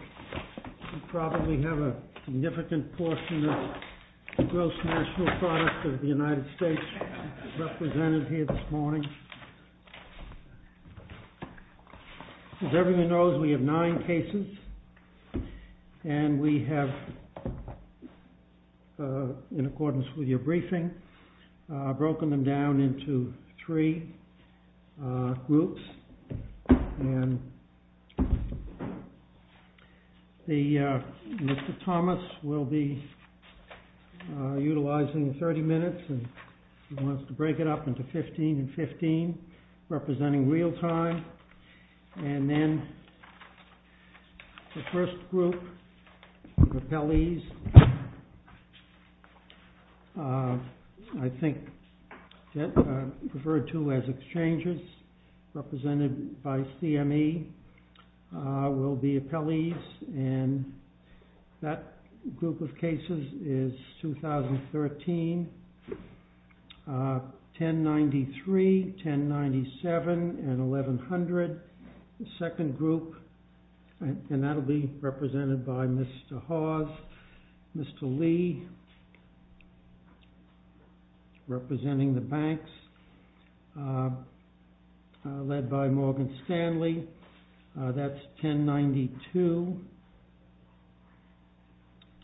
You probably have a significant portion of the gross national product of the United States represented here this morning. As everyone knows, we have nine cases, and we have, in accordance with your briefing, broken them down into three groups. Mr. Thomas will be utilizing 30 minutes. He wants to break it up into 15 and 15, representing real time. And then the first group of appellees, I think referred to as exchanges, represented by CME, will be appellees, and that group of cases is 2013, 1093, 1097, and 1100. The second group, and that will be represented by Mr. Hawes, Mr. Lee, representing the banks, led by Morgan Stanley. That's 1092,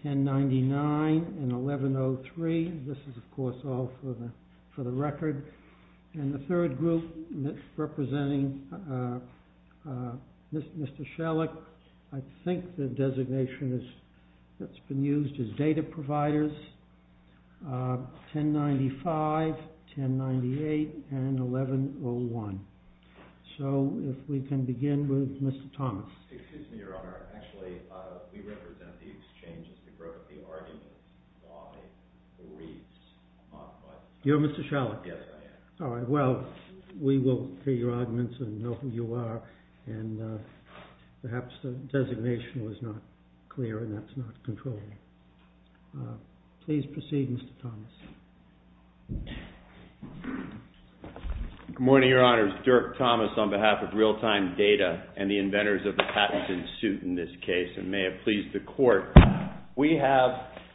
1099, and 1103. This is, of course, all for the record. And the third group representing Mr. Schellack, I think the designation that's been used is data providers, 1095, 1098, and 1101. So, if we can begin with Mr. Thomas. Excuse me, Your Honor. Actually, we represent the exchanges that broke the argument. You're Mr. Schellack? Yes, I am. All right, well, we will hear your arguments and know who you are, and perhaps the designation was not clear and that's not controlled. Please proceed, Mr. Thomas. Good morning, Your Honors. Dirk Thomas on behalf of Real-Time Data and the inventors of the patents in suit in this case, and may it please the Court. We have,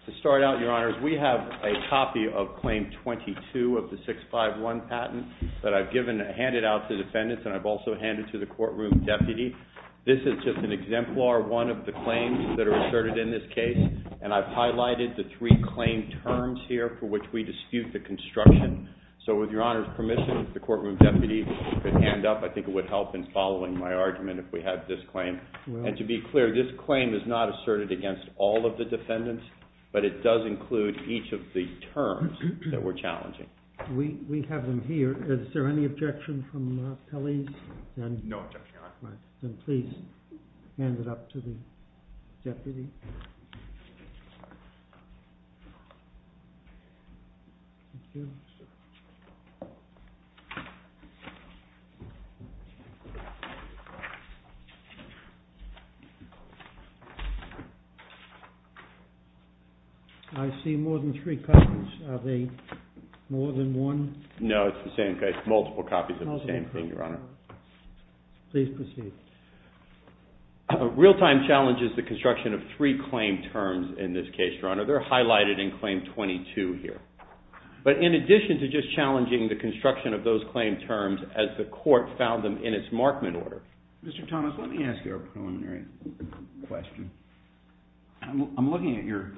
to start out, Your Honors, we have a copy of Claim 22 of the 651 patent that I've handed out to defendants and I've also handed to the courtroom deputy. This is just an exemplar one of the claims that are asserted in this case. And I've highlighted the three claim terms here for which we dispute the construction. So, with Your Honor's permission, if the courtroom deputy could hand up, I think it would help in following my argument if we had this claim. And to be clear, this claim is not asserted against all of the defendants, but it does include each of the terms that we're challenging. We have them here. Is there any objection from colleagues? No objection, Your Honor. All right. Then please hand it up to the deputy. I see more than three copies. Are they more than one? No, it's the same case. Multiple copies of the same thing, Your Honor. Please proceed. Real-time challenges the construction of three claim terms in this case, Your Honor. They're highlighted in Claim 22 here. But in addition to just challenging the construction of those claim terms as the court found them in its markman order. Mr. Thomas, let me ask you a preliminary question. I'm looking at your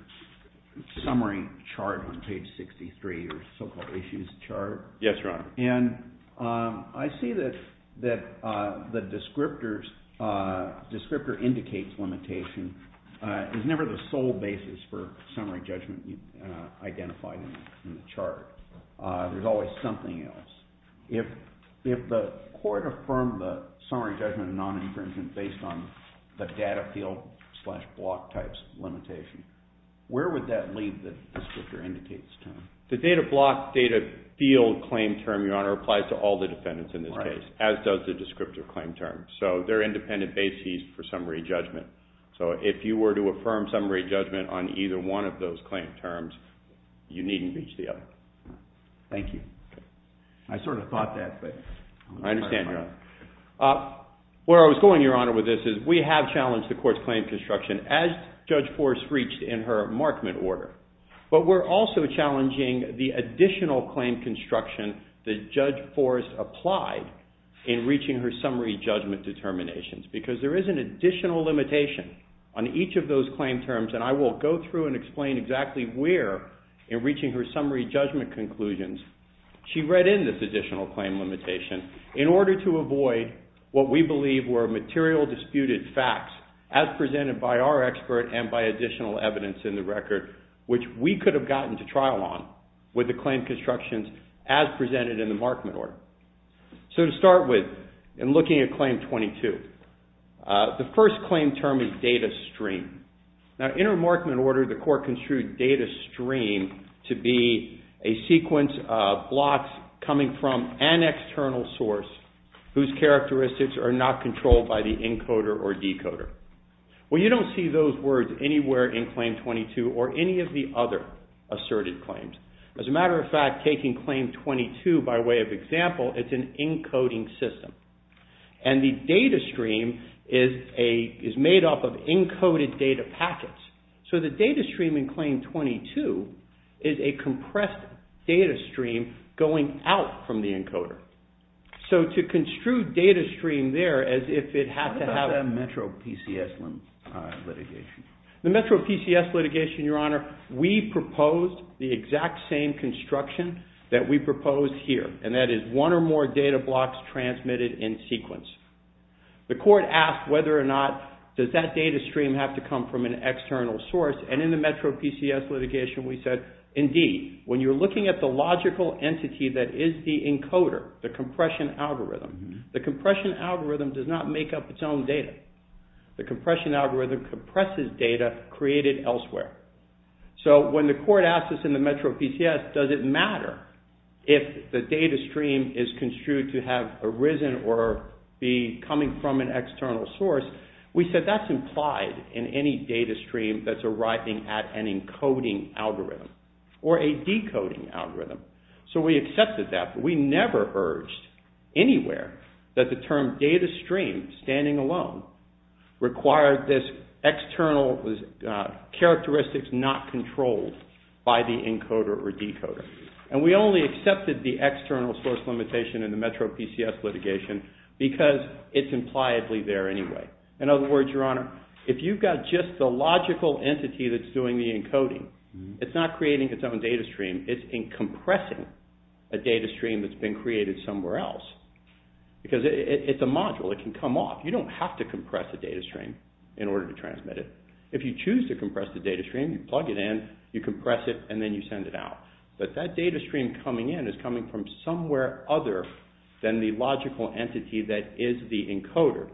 summary chart on page 63, your so-called issues chart. Yes, Your Honor. And I see that the descriptor indicates limitation is never the sole basis for summary judgment identified in the chart. There's always something else. If the court affirmed the summary judgment of the non-defendant based on the data field slash block types limitation, where would that leave the descriptor indicates term? The data block, data field claim term, Your Honor, applies to all the defendants in this case, as does the descriptor claim term. So they're independent bases for summary judgment. So if you were to affirm summary judgment on either one of those claim terms, you needn't reach the other. Thank you. I sort of thought that, but... I understand, Your Honor. Where I was going, Your Honor, with this is we have challenged the court's claim construction as Judge Forrest reached in her markman order. But we're also challenging the additional claim construction that Judge Forrest applied in reaching her summary judgment determinations because there is an additional limitation on each of those claim terms. And I will go through and explain exactly where, in reaching her summary judgment conclusions, she read in this additional claim limitation in order to avoid what we believe were material disputed facts as presented by our expert and by additional evidence in the record which we could have gotten to trial on with the claim constructions as presented in the markman order. So to start with, in looking at Claim 22, the first claim term is data stream. Now, in her markman order, the court construed data stream to be a sequence of blocks coming from an external source whose characteristics are not controlled by the encoder or decoder. Well, you don't see those words anywhere in Claim 22 or any of the other asserted claims. As a matter of fact, taking Claim 22 by way of example, it's an encoding system. And the data stream is made up of encoded data packets. So the data stream in Claim 22 is a compressed data stream going out from the encoder. So to construe data stream there as if it had to have a metro PCS litigation. The metro PCS litigation, Your Honor, we proposed the exact same construction that we proposed here. And that is one or more data blocks transmitted in sequence. The court asked whether or not does that data stream have to come from an external source and in the metro PCS litigation we said, indeed. When you're looking at the logical entity that is the encoder, the compression algorithm, the compression algorithm does not make up its own data. The compression algorithm compresses data created elsewhere. So when the court asked us in the metro PCS, does it matter if the data stream is construed to have arisen or be coming from an external source, we said that's implied in any data stream that's arriving at an encoding algorithm or a decoding algorithm. So we accepted that, but we never urged anywhere that the term data stream standing alone required this external characteristics not controlled by the encoder or decoder. And we only accepted the external source limitation in the metro PCS litigation because it's impliedly there anyway. In other words, Your Honor, if you've got just the logical entity that's doing the encoding, it's not creating its own data stream, it's compressing a data stream that's been created somewhere else because it's a module, it can come off. You don't have to compress a data stream in order to transmit it. If you choose to compress the data stream, you plug it in, you compress it, and then you send it out. But that data stream coming in is coming from somewhere other than the logical entity that is the encoder.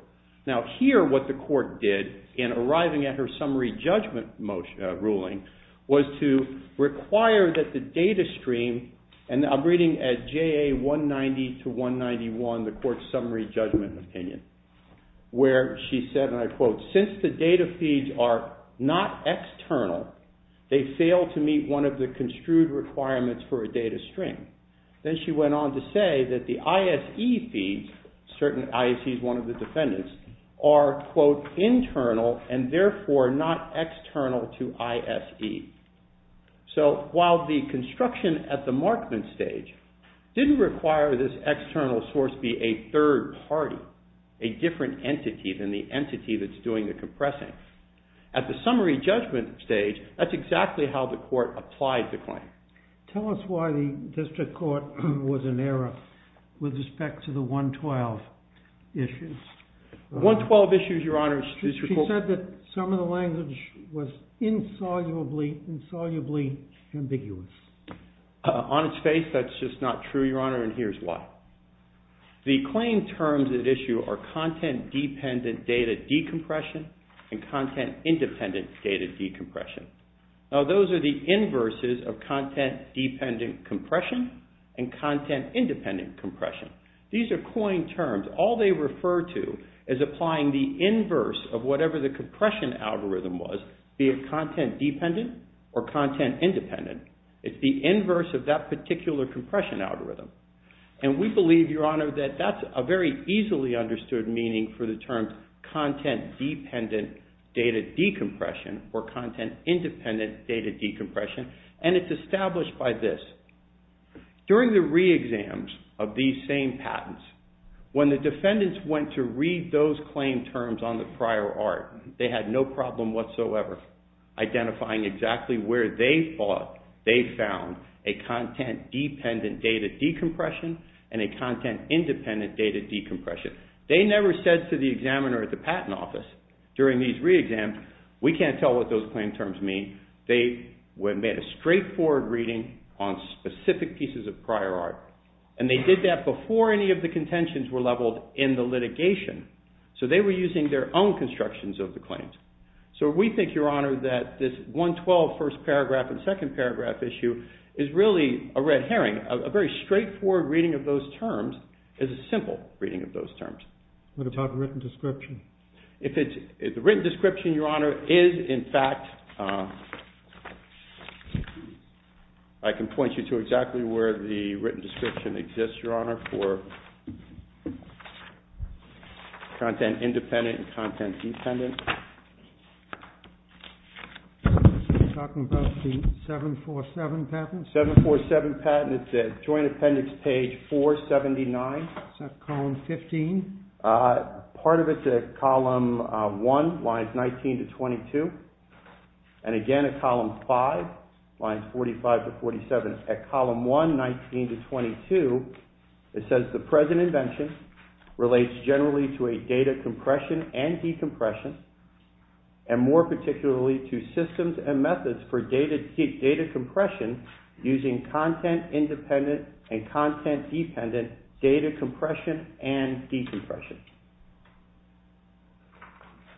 Now here what the court did in arriving at her summary judgment ruling was to require that the data stream, and I'm reading as JA 190 to 191, the court's summary judgment opinion, where she said, and I quote, since the data feeds are not external, they fail to meet one of the construed requirements for a data stream. Then she went on to say that the ISE feeds, certain ISEs, one of the defendants, are, quote, internal, and therefore not external to ISE. So while the construction at the markman stage didn't require this external source be a third party, a different entity than the entity that's doing the compressing, at the summary judgment stage, that's exactly how the court applied the claim. Tell us why the district court was in error with respect to the 112 issues. 112 issues, Your Honor. She said that some of the language was insolubly, insolubly ambiguous. On its face, that's just not true, Your Honor, and here's why. The claim terms at issue are content-dependent data decompression and content-independent data decompression. Now, those are the inverses of content-dependent compression and content-independent compression. These are coined terms. All they refer to is applying the inverse of whatever the compression algorithm was, be it content-dependent or content-independent. It's the inverse of that particular compression algorithm, and we believe, Your Honor, that that's a very easily understood meaning for the term content-dependent data decompression or content-independent data decompression, and it's established by this. During the re-exams of these same patents, when the defendants went to read those claim terms on the prior art, they had no problem whatsoever identifying exactly where they thought they found a content-dependent data decompression and a content-independent data decompression. They never said to the examiner at the patent office during these re-exams, we can't tell what those claim terms mean. They made a straightforward reading on specific pieces of prior art, and they did that before any of the contentions were leveled in the litigation, so they were using their own constructions of the claims. So we think, Your Honor, that this 112 first paragraph and second paragraph issue is really a red herring. A very straightforward reading of those terms is a simple reading of those terms. What about the written description? The written description, Your Honor, is, in fact... I can point you to exactly where the written description exists, Your Honor, for content-independent and content-dependent. You're talking about the 747 patent? 747 patent. It's at Joint Appendix page 479. Is that column 15? Part of it's at column 1, lines 19 to 22. And again at column 5, lines 45 to 47. At column 1, 19 to 22, it says the present invention relates generally to a data compression and decompression, and more particularly to systems and methods for data compression using content-independent and content-dependent data compression and decompression.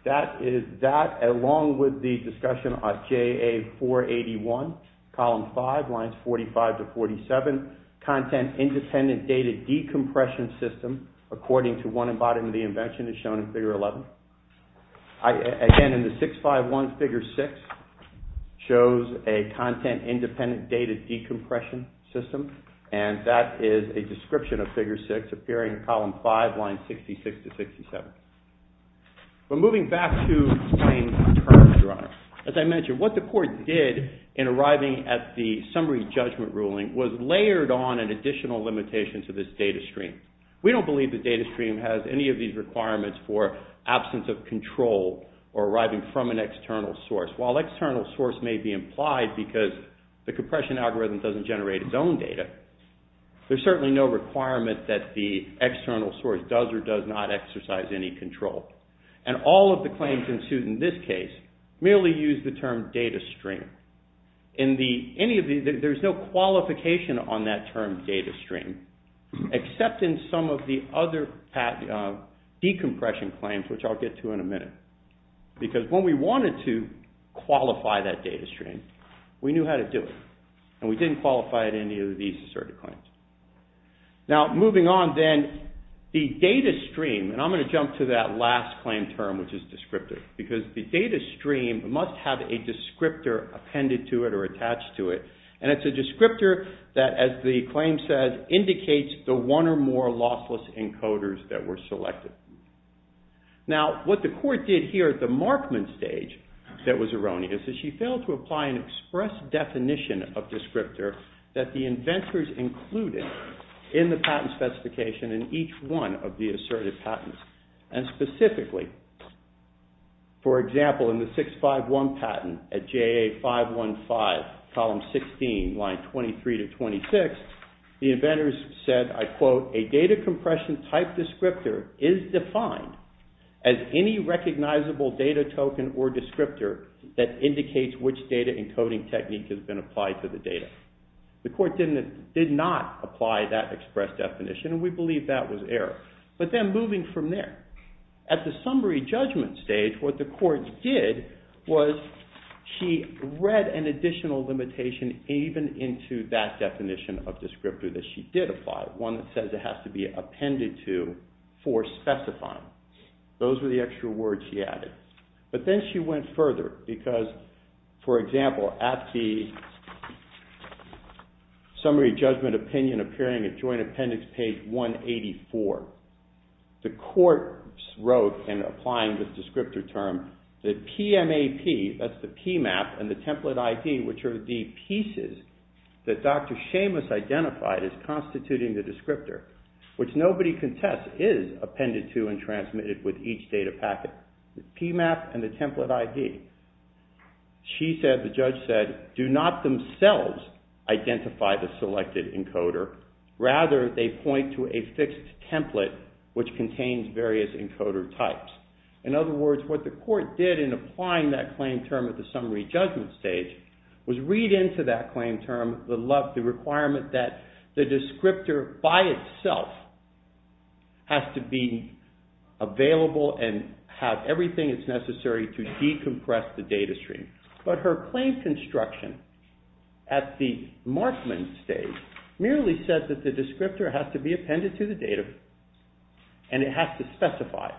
That is that, along with the discussion on JA481, column 5, lines 45 to 47, content-independent data decompression system, according to one embodiment of the invention is shown in Figure 11. Again, in the 651, Figure 6 shows a content-independent data decompression system, and that is a description of Figure 6 appearing in column 5, lines 66 to 67. We're moving back to plain terms, Your Honor. As I mentioned, what the court did in arriving at the summary judgment ruling was layered on an additional limitation to this data stream. We don't believe the data stream has any of these requirements for absence of control or arriving from an external source. While external source may be implied because the compression algorithm doesn't generate its own data, there's certainly no requirement that the external source does or does not exercise any control. And all of the claims ensued in this case merely used the term data stream. In any of these, there's no qualification on that term data stream, except in some of the other decompression claims, which I'll get to in a minute. Because when we wanted to qualify that data stream, we knew how to do it. And we didn't qualify it in any of these asserted claims. Now, moving on then, the data stream, and I'm going to jump to that last claim term, which is descriptive. Because the data stream must have a descriptor appended to it or attached to it. And it's a descriptor that, as the claim says, indicates the one or more lossless encoders that were selected. Now, what the court did here at the markman stage that was erroneous is she failed to apply an express definition of descriptor that the inventors included in the patent specification in each one of the asserted patents. And specifically, for example, in the 651 patent at JA 515, column 16, line 23 to 26, the inventors said, I quote, a data compression type descriptor is defined as any recognizable data token or descriptor that indicates which data encoding technique has been applied to the data. The court did not apply that express definition, and we believe that was error. But then moving from there, at the summary judgment stage, what the court did was she read an additional limitation even into that definition of descriptor that she did apply, one that says it has to be appended to for specifying. Those are the extra words she added. But then she went further, because, for example, at the summary judgment opinion appearing at joint appendix page 184, the court wrote and applied the descriptor term that PMAP, that's the PMAP, and the template ID, which are the pieces that Dr. Seamus identified as constituting the descriptor, which nobody can test, is appended to and transmitted with each data packet. The PMAP and the template ID. She said, the judge said, do not themselves identify the selected encoder. Rather, they point to a fixed template which contains various encoder types. In other words, what the court did in applying that claim term at the summary judgment stage was read into that claim term the requirement that the descriptor by itself has to be available and have everything it's necessary to decompress the data stream. But her claims instruction at the markman stage merely says that the descriptor has to be appended to the data and it has to specify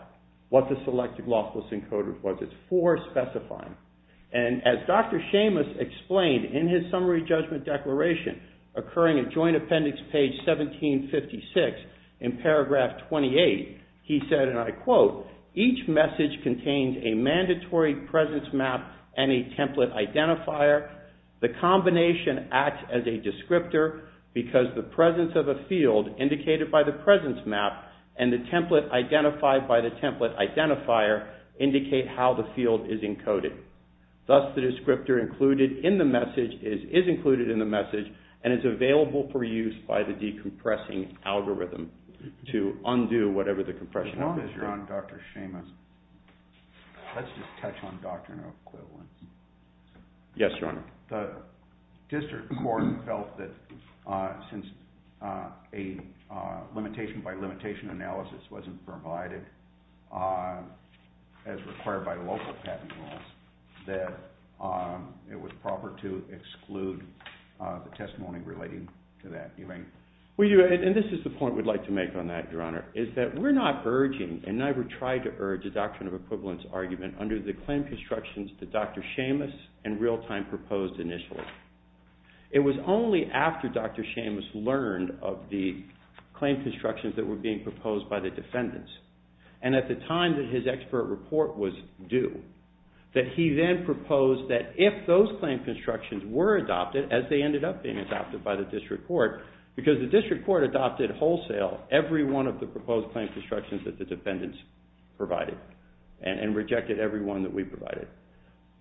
what the selected lossless encoder was. It's for specifying. And as Dr. Seamus explained in his summary judgment declaration occurring at joint appendix page 1756, in paragraph 28, he said, and I quote, each message contains a mandatory presence map and a template identifier. The combination acts as a descriptor because the presence of a field indicated by the presence map and the template identified by the template identifier indicate how the field is encoded. Thus, the descriptor included in the message is included in the message and is available for use by the decompressing algorithm to undo whatever the compression algorithm... Dr. Seamus, let's just touch on Doctrine of Equivalent. Yes, Your Honor. The district court felt that since a limitation by limitation analysis wasn't provided as required by the local patent laws, that it was proper to exclude the testimony relating to that. And this is the point we'd like to make on that, Your Honor, is that we're not urging and never tried to urge the Doctrine of Equivalent argument under the claim constructions that Dr. Seamus in real time proposed initially. It was only after Dr. Seamus learned of the claim constructions that were being proposed by the defendants, and at the time that his expert report was due, that he then proposed that if those claim constructions were adopted, as they ended up being adopted by the district court, because the district court adopted wholesale every one of the proposed claim constructions that the defendants provided, and rejected every one that we provided.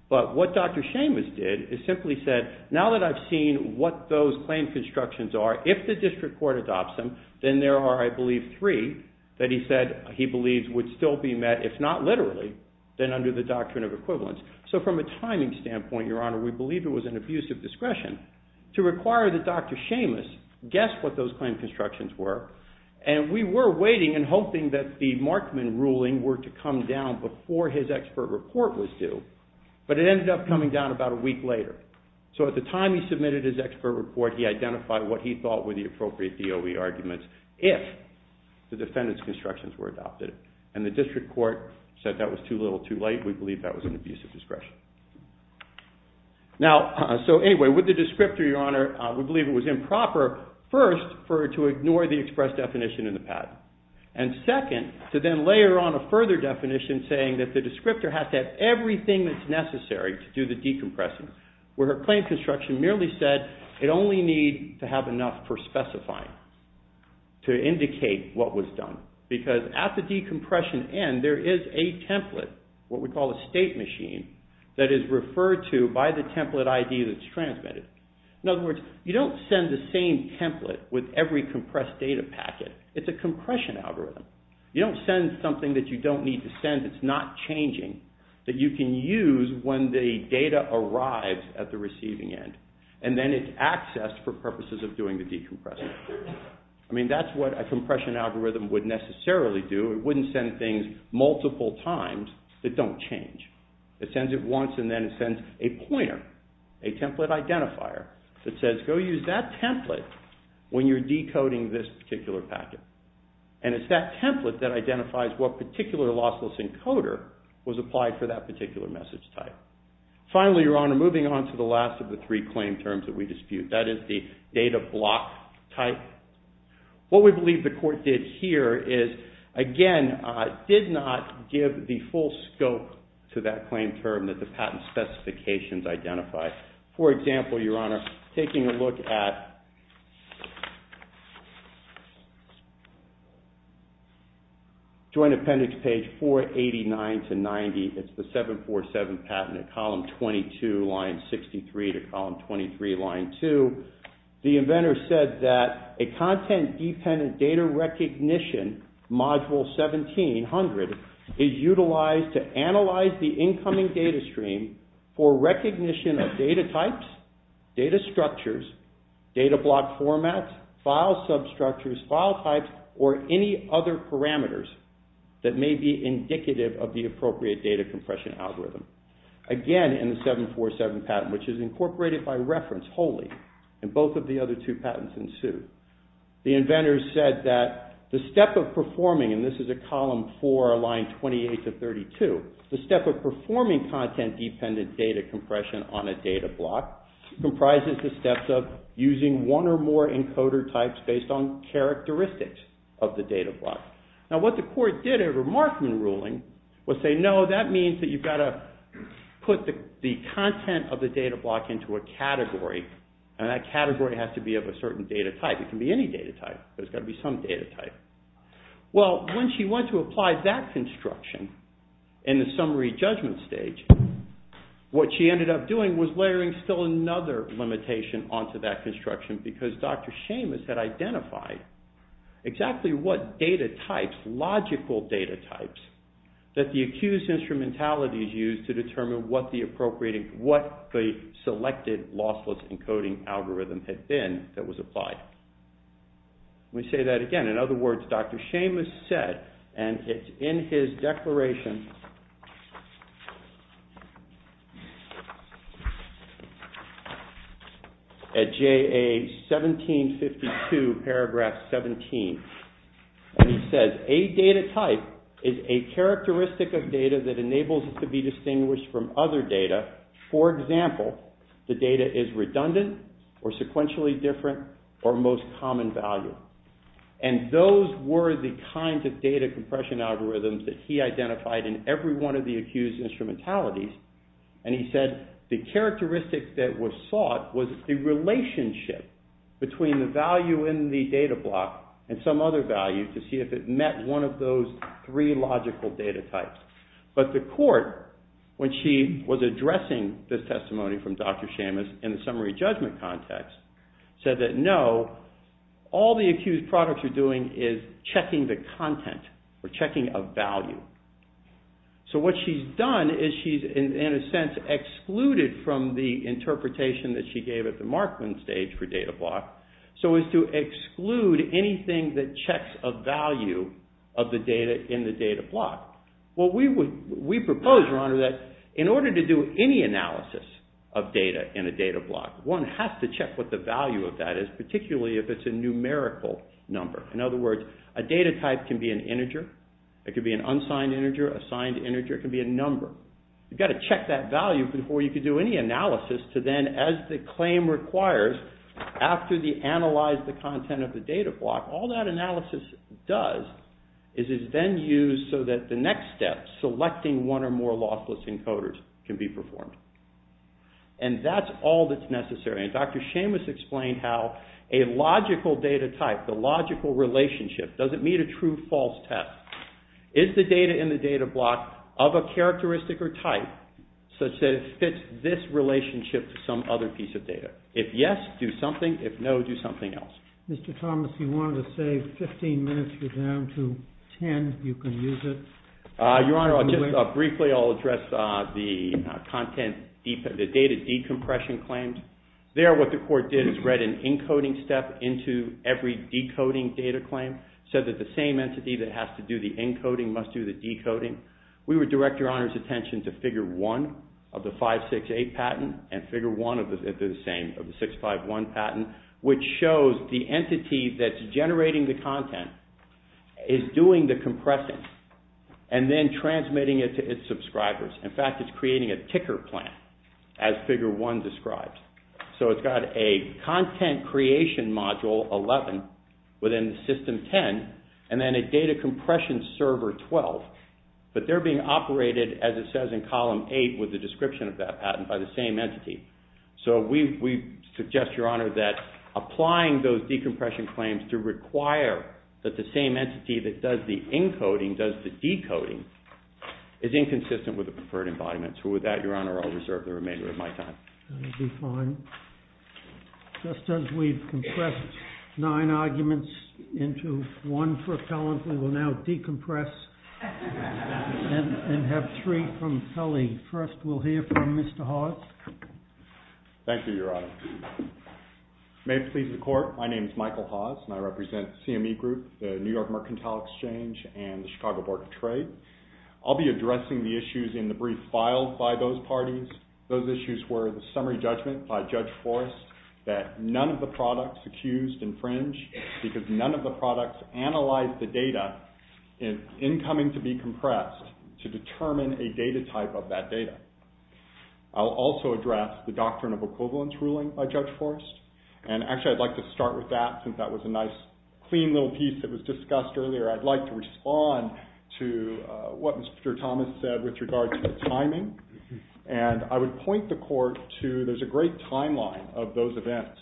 But what Dr. Seamus did is simply said, now that I've seen what those claim constructions are, if the district court adopts them, then there are, I believe, three that he said he believes would still be met if not literally, then under the Doctrine of Equivalent. So from a timing standpoint, Your Honor, we believe it was an abuse of discretion to require that Dr. Seamus guess what those claim constructions were, and we were waiting and hoping that the Markman ruling were to come down before his expert report was due, but it ended up coming down about a week later. So at the time he submitted his expert report, he identified what he thought were the appropriate DOE arguments if the defendants' constructions were adopted, and the district court said that was too little, too late. We believe that was an abuse of discretion. Now, so anyway, with the descriptor, Your Honor, we believe it was improper first, to ignore the express definition in the patent, and second, to then layer on a further definition saying that the descriptor has to have everything that's necessary to do the decompression, where her claim construction merely said it only needs to have enough for specifying, to indicate what was done, because at the decompression end, there is a template, what we call a state machine, that is referred to by the template ID that's transmitted. In other words, you don't send the same template with every compressed data packet. It's a compression algorithm. You don't send something that you don't need to send. It's not changing, that you can use when the data arrives at the receiving end, and then it's accessed for purposes of doing the decompression. I mean, that's what a compression algorithm would necessarily do. It wouldn't send things multiple times that don't change. It sends it once, and then it sends a pointer, a template identifier, that says, go use that template when you're decoding this particular packet. And it's that template that identifies what particular lossless encoder was applied for that particular message type. Finally, Your Honor, moving on to the last of the three claim terms that we dispute, that is the data block type. What we believe the court did here is, again, did not give the full scope to that claim term that the patent specifications identified. For example, Your Honor, taking a look at Joint Appendix page 489 to 90, it's the 747 patent of column 22, line 63, to column 23, line 2, the inventor said that a content-dependent data recognition, module 1700, is utilized to analyze the incoming data stream for recognition of data types, data structures, data block formats, file substructures, file types, or any other parameters that may be indicative of the appropriate data compression algorithm. Again, in the 747 patent, which is incorporated by reference wholly, and both of the other two patents ensued, the inventor said that the step of performing, and this is a column for line 28 to 32, the step of performing content-dependent data compression on a data block, comprises the steps of using one or more encoder types based on characteristics of the data block. Now, what the court did in a remarking ruling, was say, no, that means that you've got to put the content of the data block into a category, and that category has to be of a certain data type. It can be any data type. There's got to be some data type. Well, when she went to apply that construction in the summary judgment stage, what she ended up doing was layering still another limitation onto that construction because Dr. Seamus had identified exactly what data types, logical data types, that the accused instrumentality used to determine what the appropriate, what the selected lossless encoding algorithm had been that was applied. Let me say that again. In other words, Dr. Seamus said, and it's in his declaration, at JA 1752, paragraph 17, and he says, a data type is a characteristic of data that enables it to be distinguished from other data. For example, the data is redundant or sequentially different or most common value, and those were the kinds of data compression algorithms that he identified in his declaration. He identified in every one of the accused instrumentalities, and he said, the characteristic that was sought was the relationship between the value in the data block and some other value to see if it met one of those three logical data types. But the court, when she was addressing this testimony from Dr. Seamus in the summary judgment context, said that no, all the accused products are doing is checking the content or checking a value. So what she's done is she's, in a sense, excluded from the interpretation that she gave at the Markman stage for data block so as to exclude anything that checks a value of the data in the data block. Well, we propose, your honor, that in order to do any analysis of data in a data block, one has to check what the value of that is, particularly if it's a numerical number. In other words, a data type can be an integer, it can be an unsigned integer, a signed integer, it can be a number. You've got to check that value before you can do any analysis to then, as the claim requires, after they analyze the content of the data block, all that analysis does is it's then used so that the next step, selecting one or more lossless encoders can be performed. And that's all that's necessary. And Dr. Seamus explained how a logical data type, the logical relationship, does it meet a true-false test? Is the data in the data block of a characteristic or type such that it fits this relationship to some other piece of data? If yes, do something. If no, do something else. Mr. Thomas, you wanted to say 15 minutes is down to 10. You can use it. Your honor, just briefly, I'll address the content, the data decompression claims. There, what the court did is read an encoding step into every decoding data claim. Said that the same entity that has to do the encoding must do the decoding. We would direct your honor's attention to figure one of the 568 patent and figure one if they're the same, of the 651 patent, which shows the entity that's generating the content is doing the compressing and then transmitting it to its subscribers. In fact, it's creating a ticker plan as figure one describes. So it's got a content creation module, 11, within the system and then a data compression server, 12. But they're being operated, as it says in column eight, with the description of that patent by the same entity. So we suggest, your honor, that applying those decompression claims to require that the same entity that does the encoding does the decoding is inconsistent with the preferred environment. So with that, your honor, I'll reserve the remainder of my time. That would be fine. Just as we've compressed nine arguments into one propellant, we will now decompress and have three from Kelly. First, we'll hear from Mr. Haas. Thank you, your honor. May it please the court, my name is Michael Haas and I represent CME Group, the New York Mercantile Exchange and the Chicago Board of Trade. I'll be addressing the issues in the brief filed by those parties. Those issues were the summary judgment by Judge Forrest that none of the products accused infringe because none of the products analyzed the data in incoming to be compressed to determine a data type of that data. I'll also address the doctrine of equivalence ruling by Judge Forrest and actually, I'd like to start with that since that was a nice, clean little piece that was discussed earlier. I'd like to respond to what Mr. Thomas said with regards to the timing and I would point the court to, there's a great timeline of those events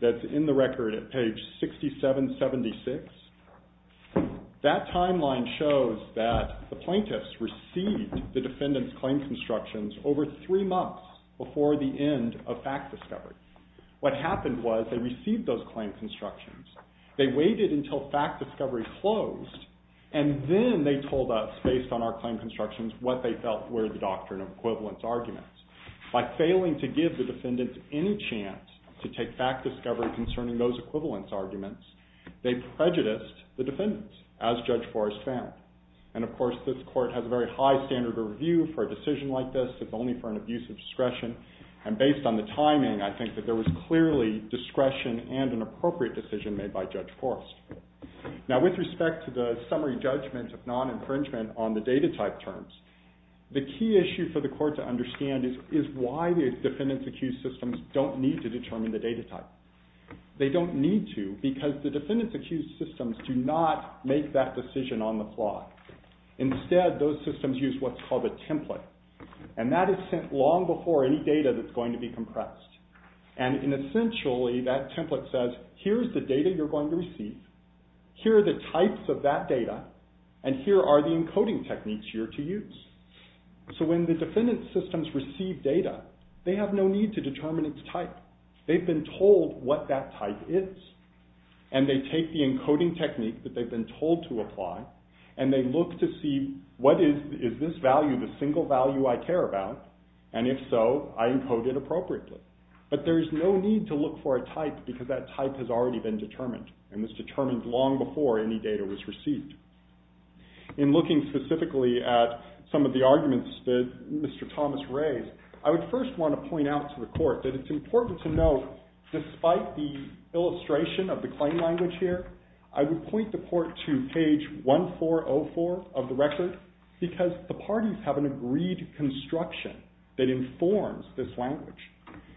that's in the record at page 6776. That timeline shows that the plaintiffs received the defendant's claim constructions over three months before the end of fact discovery. What happened was they received those claim constructions. They waited until fact discovery closed and then they told us based on our claim constructions what they felt were the doctrine of equivalence arguments. By failing to give the defendants any chance to take fact discovery concerning those equivalence arguments, they prejudiced the defendants as Judge Forrest said. And of course, this court has a very high standard of review for a decision like this if only for an abuse of discretion and based on the timing, I think that there was clearly discretion and an appropriate decision made by Judge Forrest. Now, with respect to the summary judgments of non-infringement on the data type terms, the key issue for the court to understand is why the defendants accused systems don't need to determine the data type. They don't need to because the defendants accused systems do not make that decision on the fly. Instead, those systems use what's called a template and that is sent long before any data that's going to be compressed. And essentially, that template says, here's the data you're going to receive, here are the types of that data, and here are the encoding techniques you're to use. So when the defendants accused systems receive data, they have no need to determine its type. They've been told what that type is. And they take the encoding technique that they've been told to apply and they look to see what is this value, the single value I care about, and if so, I encode it appropriately. But there's no need to look for a type because that type has already been determined and was determined long before any data was received. In looking specifically at some of the arguments that Mr. Thomas raised, I would first want to point out to the court that it's important to note despite the illustration of the claim language here, I would point the court to page 1404 of the record because the parties have an agreed construction that informs this language.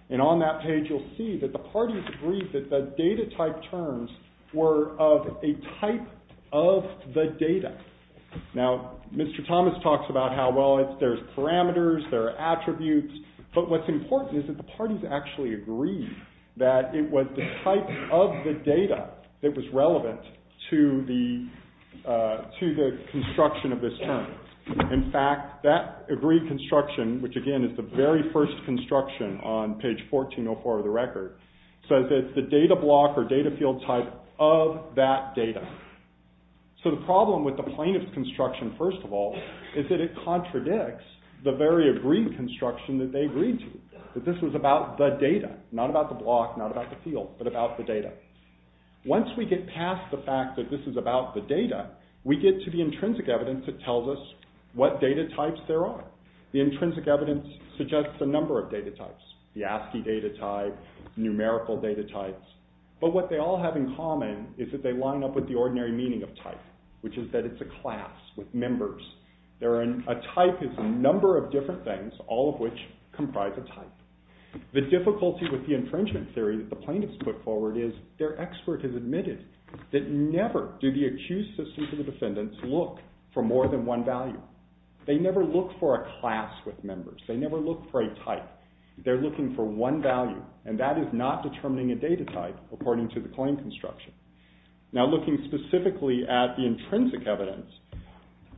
And on that page, you'll see that the parties agreed that the data type terms were of a type of the data. Now, Mr. Thomas talks about how, well, there's parameters, there are attributes, but what's important is that the parties actually agreed that it was the type of the data that was relevant to the construction of this term. In fact, that agreed construction, which, again, is the very first construction on page 1404 of the record, says it's the data block or data field type of that data. So the problem with the plaintiff's construction, first of all, is that it contradicts the very agreed construction that they agreed to, that this was about the data, not about the block, not about the field, but about the data. Once we get past the fact that this is about the data, we get to the intrinsic evidence that tells us what data types there are. The intrinsic evidence suggests a number of data types, the ASCII data type, numerical data types, but what they all have in common is that they line up with the ordinary meaning of type, which is that it's a class with members. A type is a number of different things, all of which comprise a type. The difficulty with the infringement theory that the plaintiffs put forward is their expert has admitted that never did the accused assistant to the defendants look for more than one value. They never looked for a class with members. They never looked for a type. They're looking for one value, and that is not determining a data type, according to the claim construction. Now, looking specifically at the intrinsic evidence,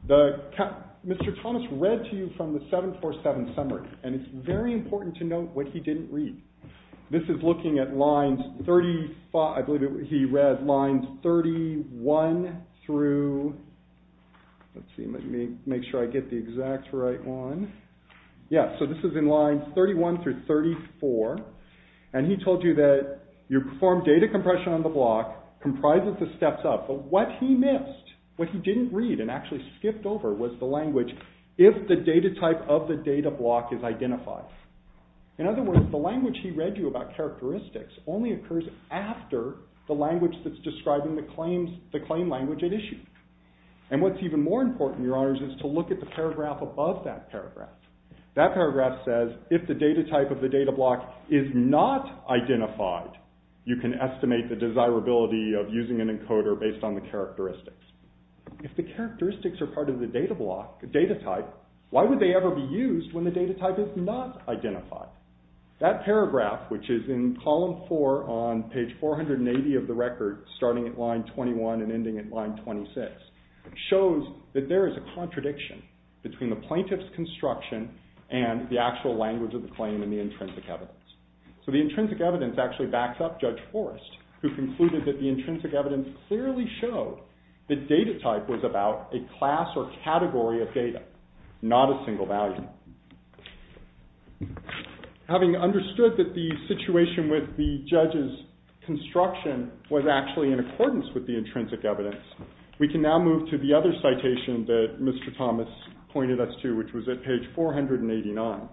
Mr. Thomas read to you from the 747 summary, and it's very important to note what he didn't read. This is looking at lines 35, I believe he read lines 31 through, let's see, let me make sure I get the exact right one. Yeah, so this is in lines 31 through 34, and he told you that you perform data compression on the block comprised with the steps up, but what he missed, what he didn't read and actually skipped over was the language, if the data type of the data block is identified. In other words, the language he read you about characteristics only occurs after the language that's described in the claim language at issue. And what's even more important, Your Honors, is to look at the paragraph above that paragraph. That paragraph says, if the data type of the data block is not identified, you can estimate the desirability of using an encoder based on the characteristics. If the characteristics are part of the data block, the data type, why would they ever be used when the data type is not identified? That paragraph, which is in column four on page 480 of the record, starting at line 21 and ending at line 26, shows that there is a contradiction between the plaintiff's construction and the actual language of the claim and the intrinsic evidence. So the intrinsic evidence actually backs up Judge Forrest, who concluded that the intrinsic evidence didn't clearly show that data type was about a class or category of data, not a single value. Having understood that the situation with the judge's construction was actually in accordance with the intrinsic evidence, we can now move to the other citation that Mr. Thomas pointed us to, which was at page 489.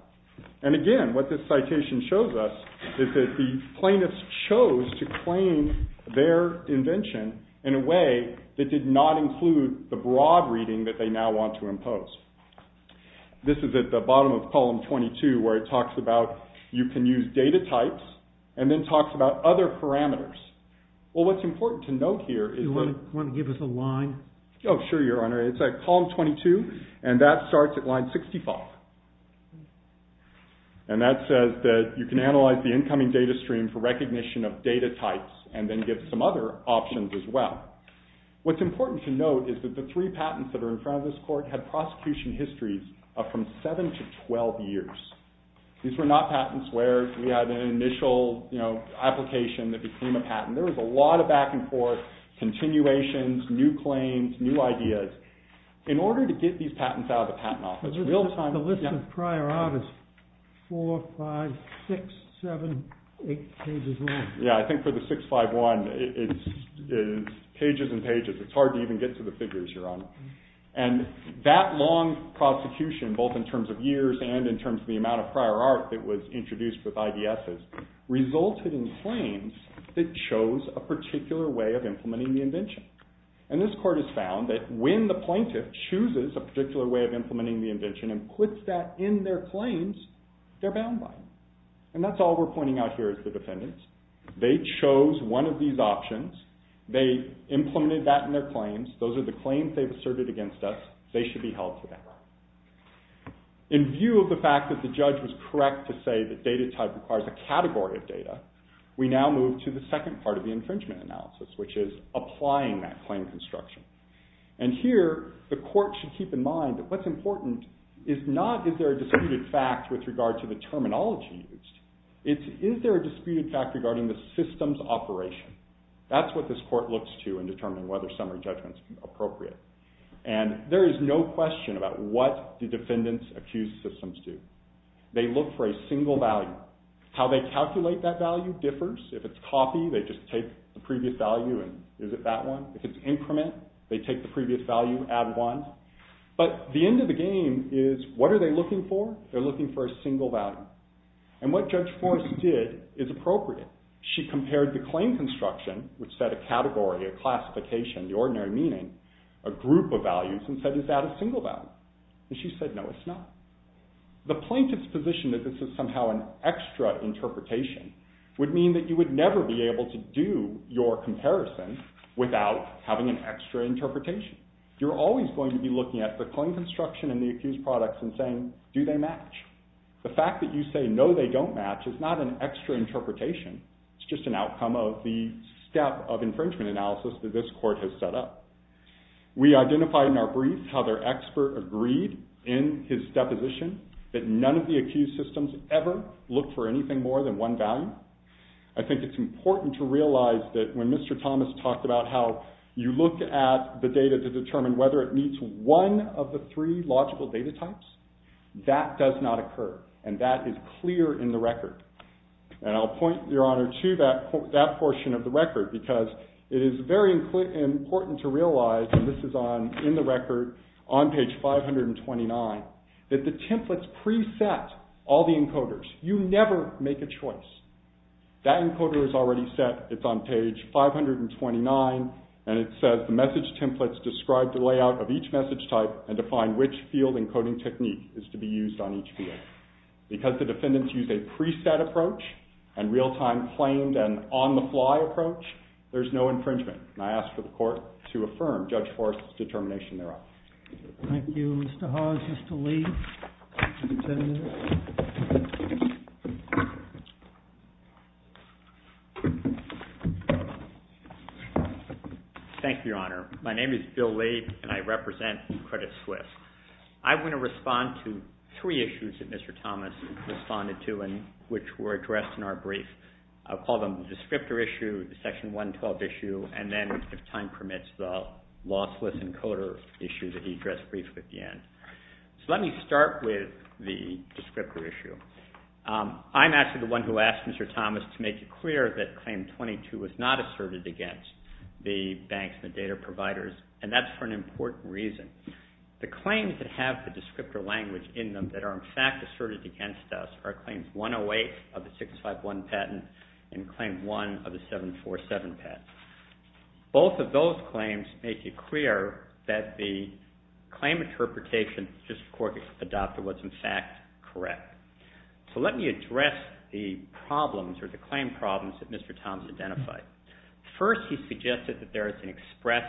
And again, what this citation shows us is that the plaintiffs chose to claim their invention in a way that did not include the broad reading that they now want to impose. This is at the bottom of column 22, where it talks about you can use data types and then talks about other parameters. Well, what's important to note here is that... Do you want to give us a line? Oh, sure, Your Honor. It's at column 22, and that starts at line 65. And that says that you can analyze the incoming data stream for recognition of data types and then give some other options as well. What's important to note is that the three patents that are in front of this court have prosecution histories of from 7 to 12 years. These were not patents where we had an initial, you know, application that became a patent. There was a lot of back-and-forth, continuations, new claims, new ideas. In order to get these patents out of the Patent Office, real time... The list is prior August 4, 5, 6, 7, 8, Yeah, I think for the 651, it's pages and pages. It's hard to even get to the figures, Your Honor. And that long prosecution, both in terms of years and in terms of the amount of prior art that was introduced with IDSs, resulted in claims that chose a particular way of implementing the invention. And this court has found that when the plaintiff chooses a particular way of implementing the invention and puts that in their claims, they're bound by it. And that's all we're pointing out here to the defendants. They chose one of these options. They implemented that in their claims. Those are the claims they've asserted against us. They should be held to that. In view of the fact that the judge was correct to say that data type requires a category of data, we now move to the second part of the infringement analysis, which is applying that claim construction. And here, the court should keep in mind that what's important is not is there a disputed fact with regard to the terminology used. It's is there a disputed fact regarding the system's operation. That's what this court looks to in determining whether summary judgment is appropriate. And there is no question about what the defendants accuse systems to. They look for a single value. How they calculate that value differs. If it's copy, they just take the previous value and visit that one. If it's increment, they take the previous value and add one. But the end of the game is what are they looking for? They're looking for a single value. And what Judge Forrest did is appropriate. She compared the claim construction, which said a category, a classification, the ordinary meaning, a group of values, and said, is that a single value? And she said, no, it's not. The plaintiff's position that this is somehow an extra interpretation would mean that you would never be able to do your comparison without having an extra interpretation. You're always going to be looking at the claim construction and the accused products and saying, do they match? The fact that you say, no, they don't match is not an extra interpretation. It's just an outcome of the step of infringement analysis that this court has set up. We identified in our brief how their expert agreed in his deposition that none of the accused systems ever look for anything more I think it's important to realize that when Mr. Thomas talked about how you look at the data to determine whether it meets one of the three logical data types, that does not occur. And that is clear in the record. And I'll point, Your Honor, to that portion of the record because it is very important to realize and this is on in the record on page 529 that the templates preset all the encoders. You never make a choice. That encoder is already set. It's on page 529 and it says the message templates describe the layout of each message type and define which field encoding technique is to be used on each field. Because the defendants use a preset approach and real-time claimed and on-the-fly approach, there's no infringement. And I ask the court to affirm Judge Forrest's determination thereof. Thank you. Mr. Hawes, Mr. Lee, and the defendants. Thank you, Your Honor. My name is Bill Lee and I represent Credit Suisse. I'm going to respond to three issues that Mr. Thomas responded to and which were addressed in our brief. I'll call them the descriptor issue, the Section 112 issue, and then, if time permits, the lossless encoder issue that he addressed briefly at the end. So let me start with the descriptor issue. I'm actually the one who asked Mr. Thomas to make it clear that Claim 22 was not asserted against the banks, the data providers, and that's for an important reason. The claims that have the descriptor language in them that are, in fact, asserted against us are Claims 108 of the 651 patent and Claim 1 of the 747 patent. Both of those claims make it clear that the claim interpretation that this court adopted was, in fact, correct. So let me address the problems or the claim problems that Mr. Thomas identified. First, he suggested that there is an express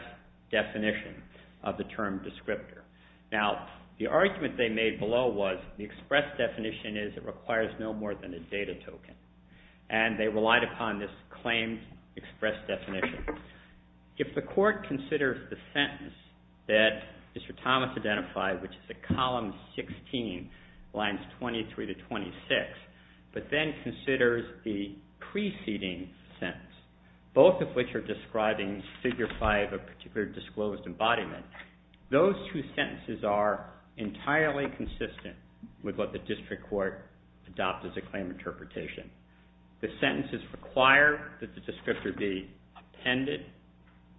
definition of the term descriptor. Now, the argument they made below was the express definition is it requires no more than a data token. And they relied upon this claim express definition. If the court considers the sentence that Mr. Thomas identified, which is at column 16, lines 23 to 26, but then considers the preceding sentence, both of which are describing figure five of a particular disclosed embodiment, those two sentences are entirely consistent with what the district court adopted the claim interpretation. The sentences require that the descriptor be appended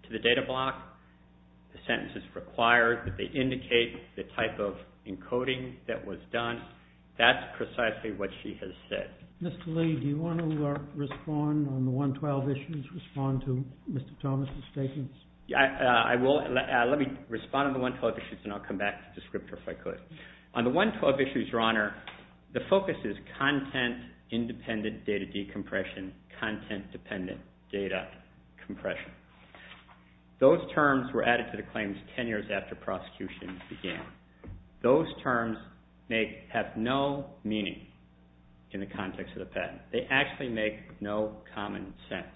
to the data block. The sentences require that they indicate the type of encoding that was done. That's precisely what she has said. Mr. Lee, do you want to respond on the 112 issues? Do you want to respond to Mr. Thomas' statements? I will. Let me respond on the 112 issues and I'll come back to the descriptor if I could. On the 112 issues, Your Honor, the focus is content, independent data decompression, content dependent data compression. Those terms were added to the claims 10 years after prosecution began. Those terms have no meaning in the context of the patent. They actually make no common sense.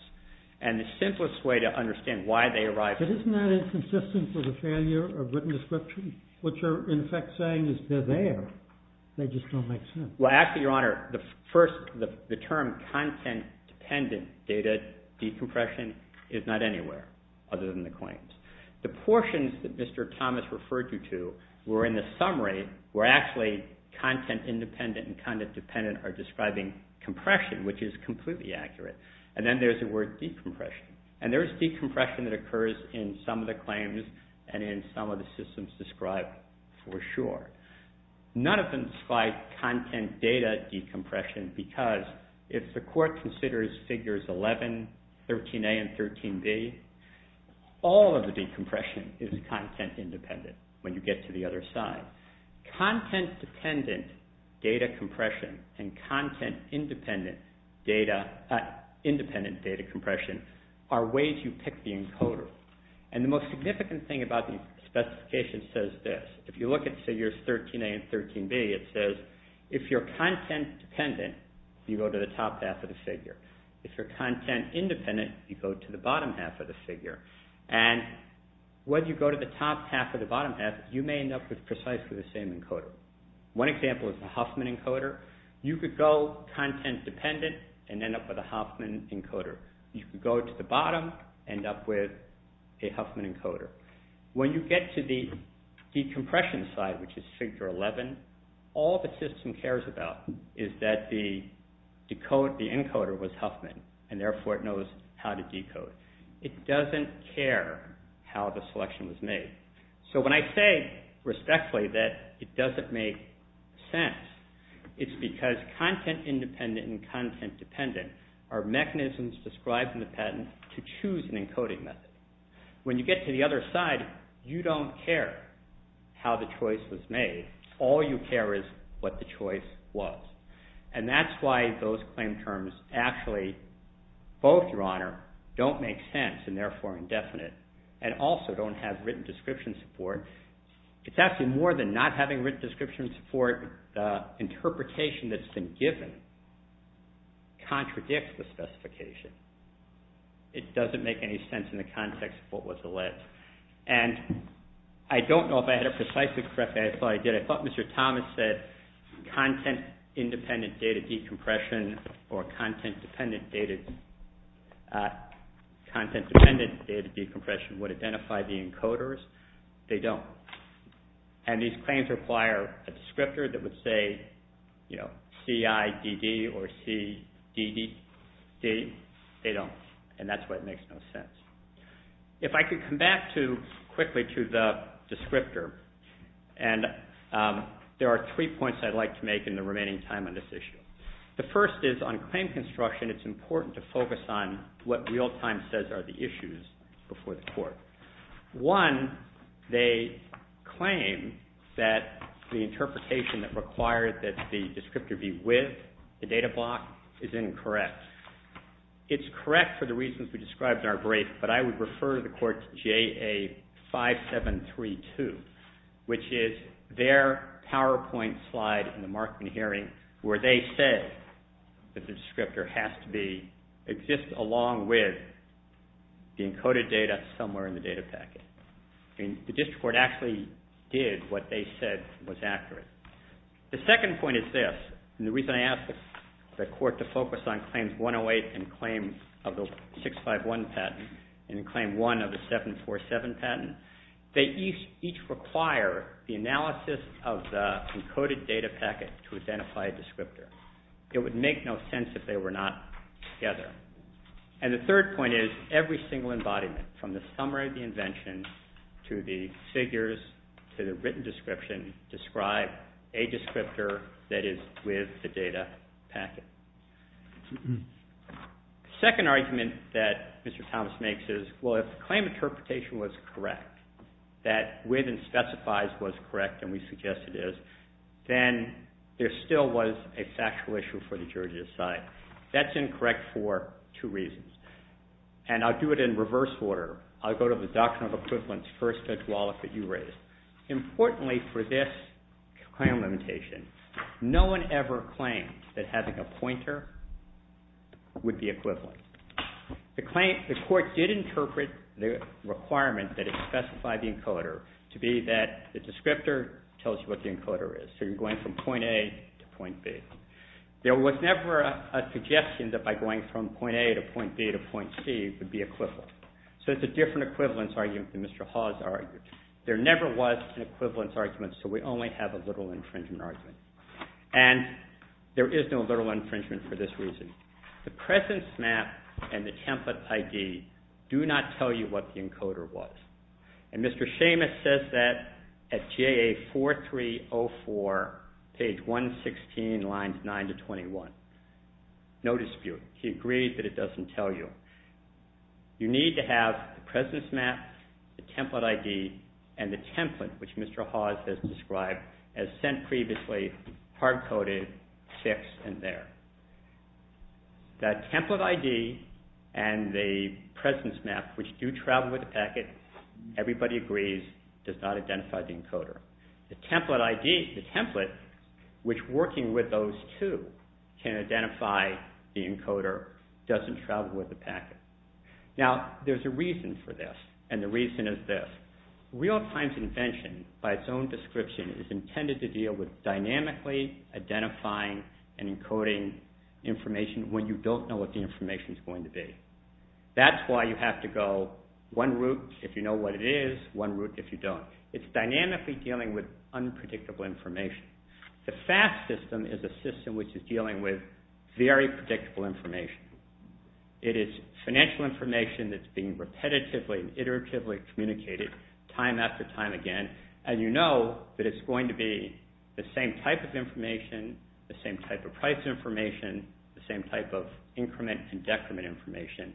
And the simplest way to understand why they arise... But isn't that inconsistent for the failure of written description? What you're in effect saying is they're there. They just don't make sense. Well, actually, Your Honor, the first, the term content dependent data decompression is not anywhere other than the claims. The portions that Mr. Thomas referred you to were in the summary where actually content independent and content dependent are describing compression, which is completely accurate. And then there's the word decompression. And there's decompression that occurs in some of the claims and in some of the systems described for sure. None of them describe content data decompression because if the court considers Figures 11, 13A, and 13B, all of the decompression is content independent when you get to the other side. Content dependent data compression and content independent data, independent data compression are ways you pick the encoder. And the most significant thing about the specification says this. If you look at Figures 13A and 13B, it says if you're content dependent, you go to the top half of the figure. If you're content independent, you go to the bottom half of the figure. And when you go to the top half or the bottom half, you may end up with precisely the same encoder. One example is the Huffman encoder. You could go content dependent and end up with a Huffman encoder. You could go to the bottom and end up with a Huffman encoder. When you get to the decompression side, which is Figure 11, all the system cares about is that the encoder was Huffman, and therefore it knows how to decode. It doesn't care how the selection was made. So when I say respectfully that it doesn't make sense, it's because content independent and content dependent are mechanisms described in the patent to choose an encoding method. When you get to the other side, you don't care how the choice was made. All you care is what the choice was. And that's why those claim terms actually both, Your Honor, don't make sense and therefore are indefinite and also don't have written description support. It's actually more than not having written description support. The interpretation that's been given contradicts the specification. It doesn't make any sense in the context of what was alleged. And I don't know if I had it precisely correct. I thought I did. I thought Mr. Thomas said content independent data decompression or content dependent data decompression would identify the encoders. They don't. And these claims require a descriptor that would say, you know, CIDD or CDDD. They don't. And that's why it makes no sense. If I could come back to, quickly to the descriptor, and there are three points I'd like to make in the remaining time on this issue. it's important to focus on what real time says are the issues before the court. One, they claim that the interpretation that required that the descriptor be with the data block is incorrect. It's correct for the reasons we described in our brief, but I would refer to the court's JA5732, which is their PowerPoint slide in the Markman hearing where they said that the descriptor has to be, exist along with the encoded data somewhere in the data packet. I mean, the district court actually did what they said was accurate. The second point is this, and the reason I asked the court to focus on claims 108 and claims of the 651 patent and claim one of the 747 patent, they each require the analysis of the encoded data packet to identify a descriptor. It would make no sense if they were not together. And the third point is every single embodiment from the summary of the invention to the figures, to the written description describe a descriptor that is with the data packet. The second argument that Mr. Thomas makes is, well, if the claim interpretation was correct, that with and specifies was correct and we suggest it is, then there still was a factual issue for the jury to decide. That's incorrect for two reasons, and I'll do it in reverse order. I'll go to the doctrine of equivalence first, as well as what you raised. Importantly for this claim limitation, no one ever claimed that having a pointer would be equivalent. The court did interpret the requirement that it specify the encoder to be that the descriptor tells you what the encoder is. So you're going from point A to point B. There was never a suggestion that by going from point A to point B to point C could be equivalent. So it's a different equivalence argument than Mr. Hawes argued. There never was an equivalence argument, so we only have a literal infringement argument. And there is no literal infringement for this reason. The presence map and the template ID do not tell you what the encoder was. And Mr. Seamus says that at GAA 4304, page 116, lines 9 to 21. No dispute. He agrees that it doesn't tell you. You need to have the presence map, the template ID, and the template, which Mr. Hawes has described as sent previously, hard-coded, fixed, and there. That template ID and the presence map, which do travel with the packet, everybody agrees, does not identify the encoder. The template ID, the template, which working with those two can identify the encoder, doesn't travel with the packet. Now, there's a reason for this, and the reason is this. Real-time's invention, by its own description, is intended to deal with dynamically identifying and encoding information when you don't know what the information is going to be. That's why you have to go one route if you know what it is, one route if you don't. It's dynamically dealing with unpredictable information. The FAST system is a system which is dealing with very predictable information. It is financial information that's being repetitively and iteratively communicated time after time again, and you know that it's going to be the same type of information, the same type of price information, the same type of increment and decrement information,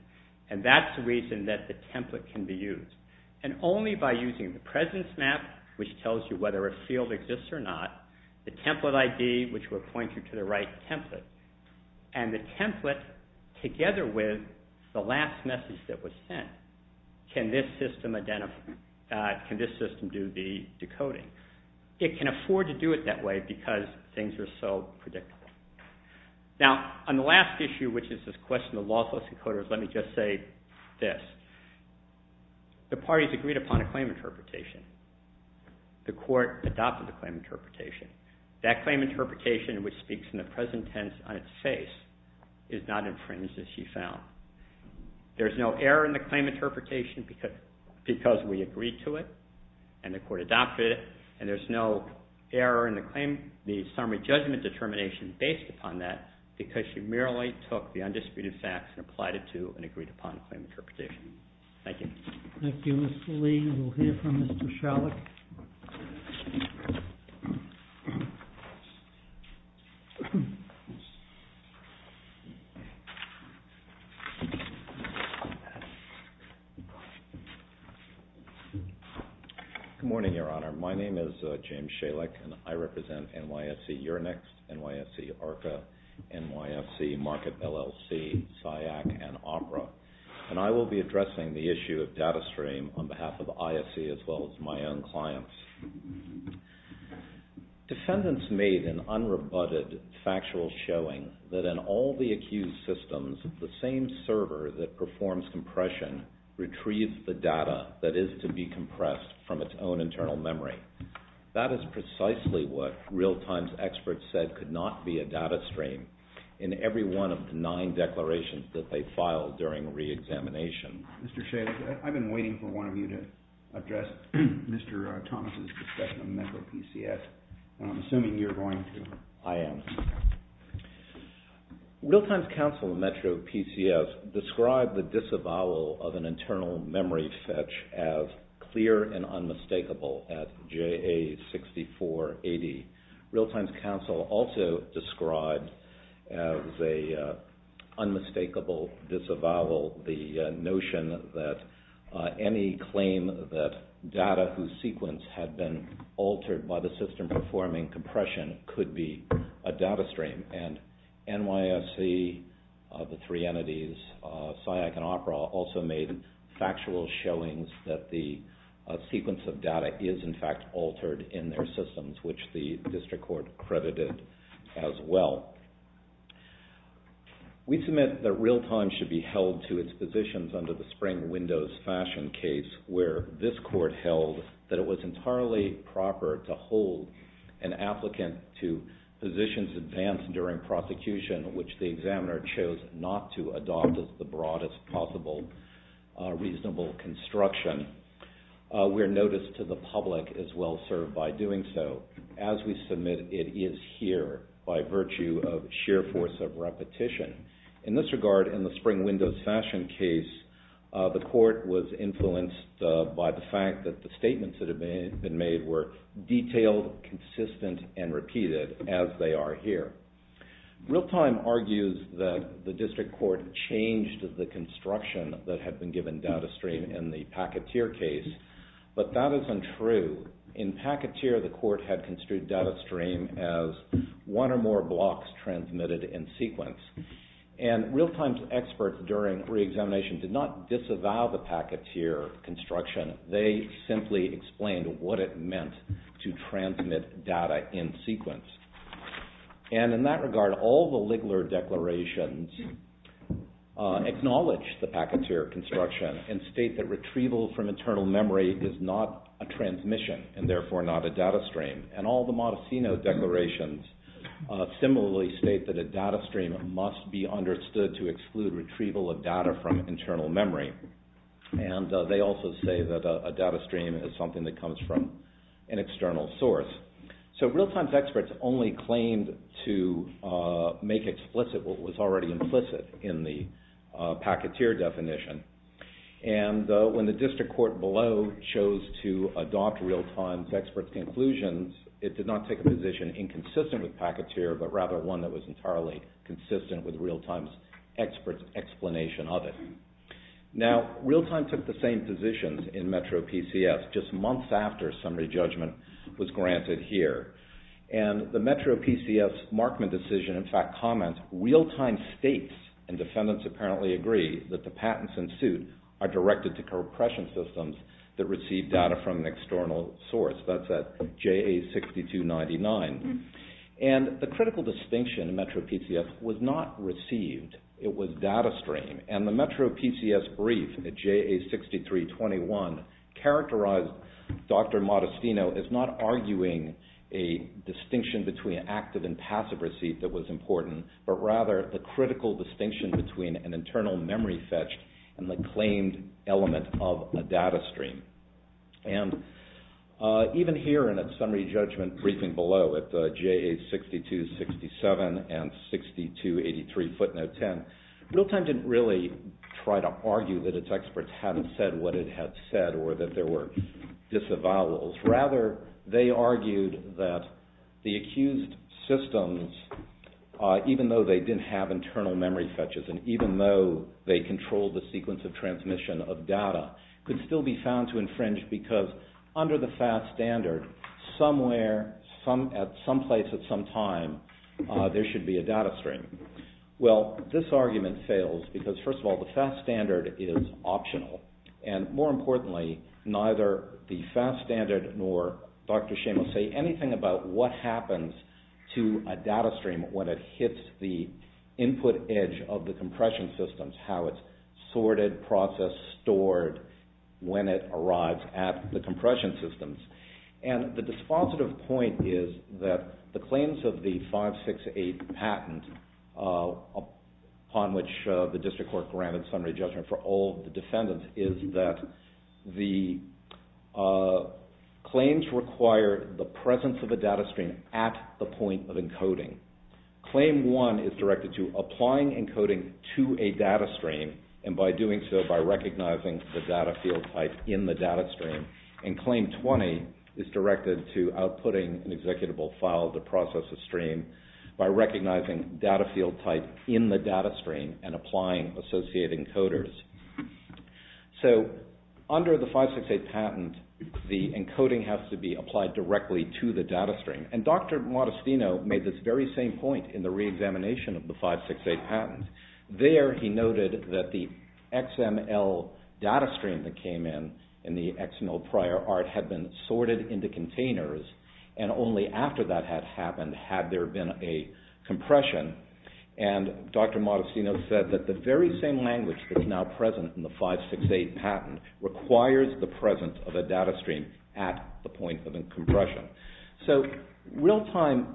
and that's the reason that the template can be used. And only by using the presence map, which tells you whether a field exists or not, the template ID, which will point you to the right template, and the template, together with the last message that was sent, can this system do the decoding. It can afford to do it that way because things are so predictable. Now, on the last issue, which is this question of lawful decoders, let me just say this. The parties agreed upon a claim interpretation. The court adopted the claim interpretation. That claim interpretation, which speaks in the present tense on its face, is not infringed as you found. There's no error in the claim interpretation because we agreed to it and the court adopted it, and there's no error in the summary judgment determination based upon that because you merely took the undisputed facts and applied it to and agreed upon the claim interpretation. Thank you. Thank you, Mr. Lee. We'll hear from Mr. Shalek. Good morning, Your Honor. My name is James Shalek, and I represent NYSC Euronext, NYSC ARCA, NYSC Market LLC, SIAC, and OPERA, and I will be addressing the issue of data stream on behalf of the ISC as well as my own clients. Defendants made an unrebutted factual showing that in all the accused systems, the same server that performs compression retrieves the data that is to be compressed from its own internal memory. That is precisely what Realtime's experts said could not be a data stream in every one of the nine declarations that they filed during reexamination. Mr. Shalek, I've been waiting for one of you to address Mr. Thomas' discussion of Metro PCS. I'm assuming you're going to. I am. Realtime's counsel in Metro PCS of an internal memory fetch as clear and unmistakable at JA 6480. Realtime's counsel also described as a unmistakable disavowal the notion that any claim that data whose sequence had been altered by the system performing compression could be a data stream. And NYSC, the three entities, SIAC and OPERA also made factual showings that the sequence of data is in fact altered in their systems which the district court credited as well. We submit that Realtime should be held to its positions under the spring windows fashion case where this court held that it was entirely proper to hold an applicant to positions advanced during prosecution which the examiner chose not to adopt as the broadest possible reasonable construction. We're noticed to the public that Realtime is well served by doing so. As we submit it is here by virtue of sheer force of repetition. In this regard in the spring windows fashion case the court was influenced by the fact that the statements that had been made were detailed, consistent and repeated as they are here. Realtime argues that the district court changed the construction that had been given data stream in the packeteer case but that is untrue. In packeteer the court had construed data stream as one or more blocks transmitted in sequence. And Realtime's experts during re-examination did not disavow the packeteer construction. They simply explained what it meant to transmit data in sequence. And in that regard all the Ligler declarations acknowledge the packeteer construction and state that retrieval from internal memory is not a transmission and therefore not a data stream. And all the Modestino declarations similarly state that a data stream must be understood to exclude retrieval of data from internal memory. And they also say that a data stream is something that comes from an external source. So Realtime's experts only claimed to make explicit what was already implicit in the packeteer definition. And though when the district court below chose to adopt Realtime's expert conclusions it did not take a position inconsistent with packeteer but rather one that was entirely consistent with Realtime's experts' explanation of it. Now Realtime took the same positions in Metro PCS just months after summary judgment was granted here. And the Metro PCS markment decision in fact comments Realtime states and defendants apparently agree that the patents in suit are directed to compression systems that receive data from an external source. That's at JA6299. And the critical distinction in Metro PCS was not received. It was data stream. And the Metro PCS brief at JA6321 characterized Dr. Modestino as not arguing a distinction between active and passive receipt that was important but rather the critical distinction between an internal memory fetch and the claimed element of a data stream. And even here in a summary judgment briefing below at the JA6267 and 6283 footnote 10 Realtime didn't really try to argue that its experts hadn't said what it had said or that there were disavowals. Rather they argued that the accused systems even though they didn't have access and even though they controlled the sequence of transmission of data could still be found to infringe because under the FAST standard somewhere, at some place at some time there should be a data stream. Well this argument fails because first of all the FAST standard is optional. And more importantly neither the FAST standard nor Dr. Shim will say anything about what happens to a data stream when it hits the input edge of the compression systems. How it's sorted, processed, stored when it arrives at the compression systems. And the dispositive point is that the claims of the 568 patent upon which the district court granted summary judgment for all the defendants is that the claims require the presence of a data stream at the point of encoding. Claim one is directed to applying encoding to a data stream and by doing so by recognizing the data field type in the data stream. And claim 20 is directed to outputting an executable file to process a stream by recognizing data field type in the data stream and applying associated encoders. So under the 568 patent the encoding has to be applied directly to the data stream. And Dr. Modestino made this very same point in the re-examination of the 568 patent. There he noted that the XML data stream that came in in the XML prior art had been sorted into containers and only after that had happened had there been a compression. And Dr. Modestino said that the very same language that's now present in the 568 patent requires the presence of a data stream at the point of a compression. So real time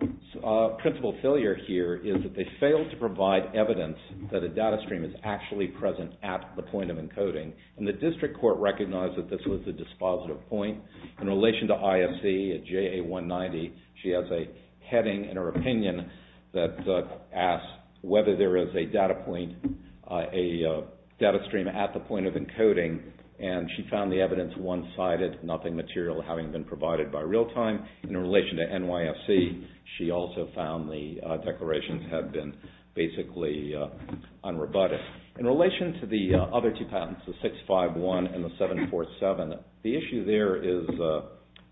principle failure here is that they fail to provide evidence that a data stream is actually present at the point of encoding. And the district court recognized that this was the dispositive point. In relation to IFC at JA190 she has a heading in her opinion that asks whether there is a data point a data stream at the point of encoding. And she found the evidence one-sided nothing material having been provided by real time. In relation to NYFC she also found the declarations have been basically unrebutted. In relation to the other two patents the 651 and the 747 the issue there is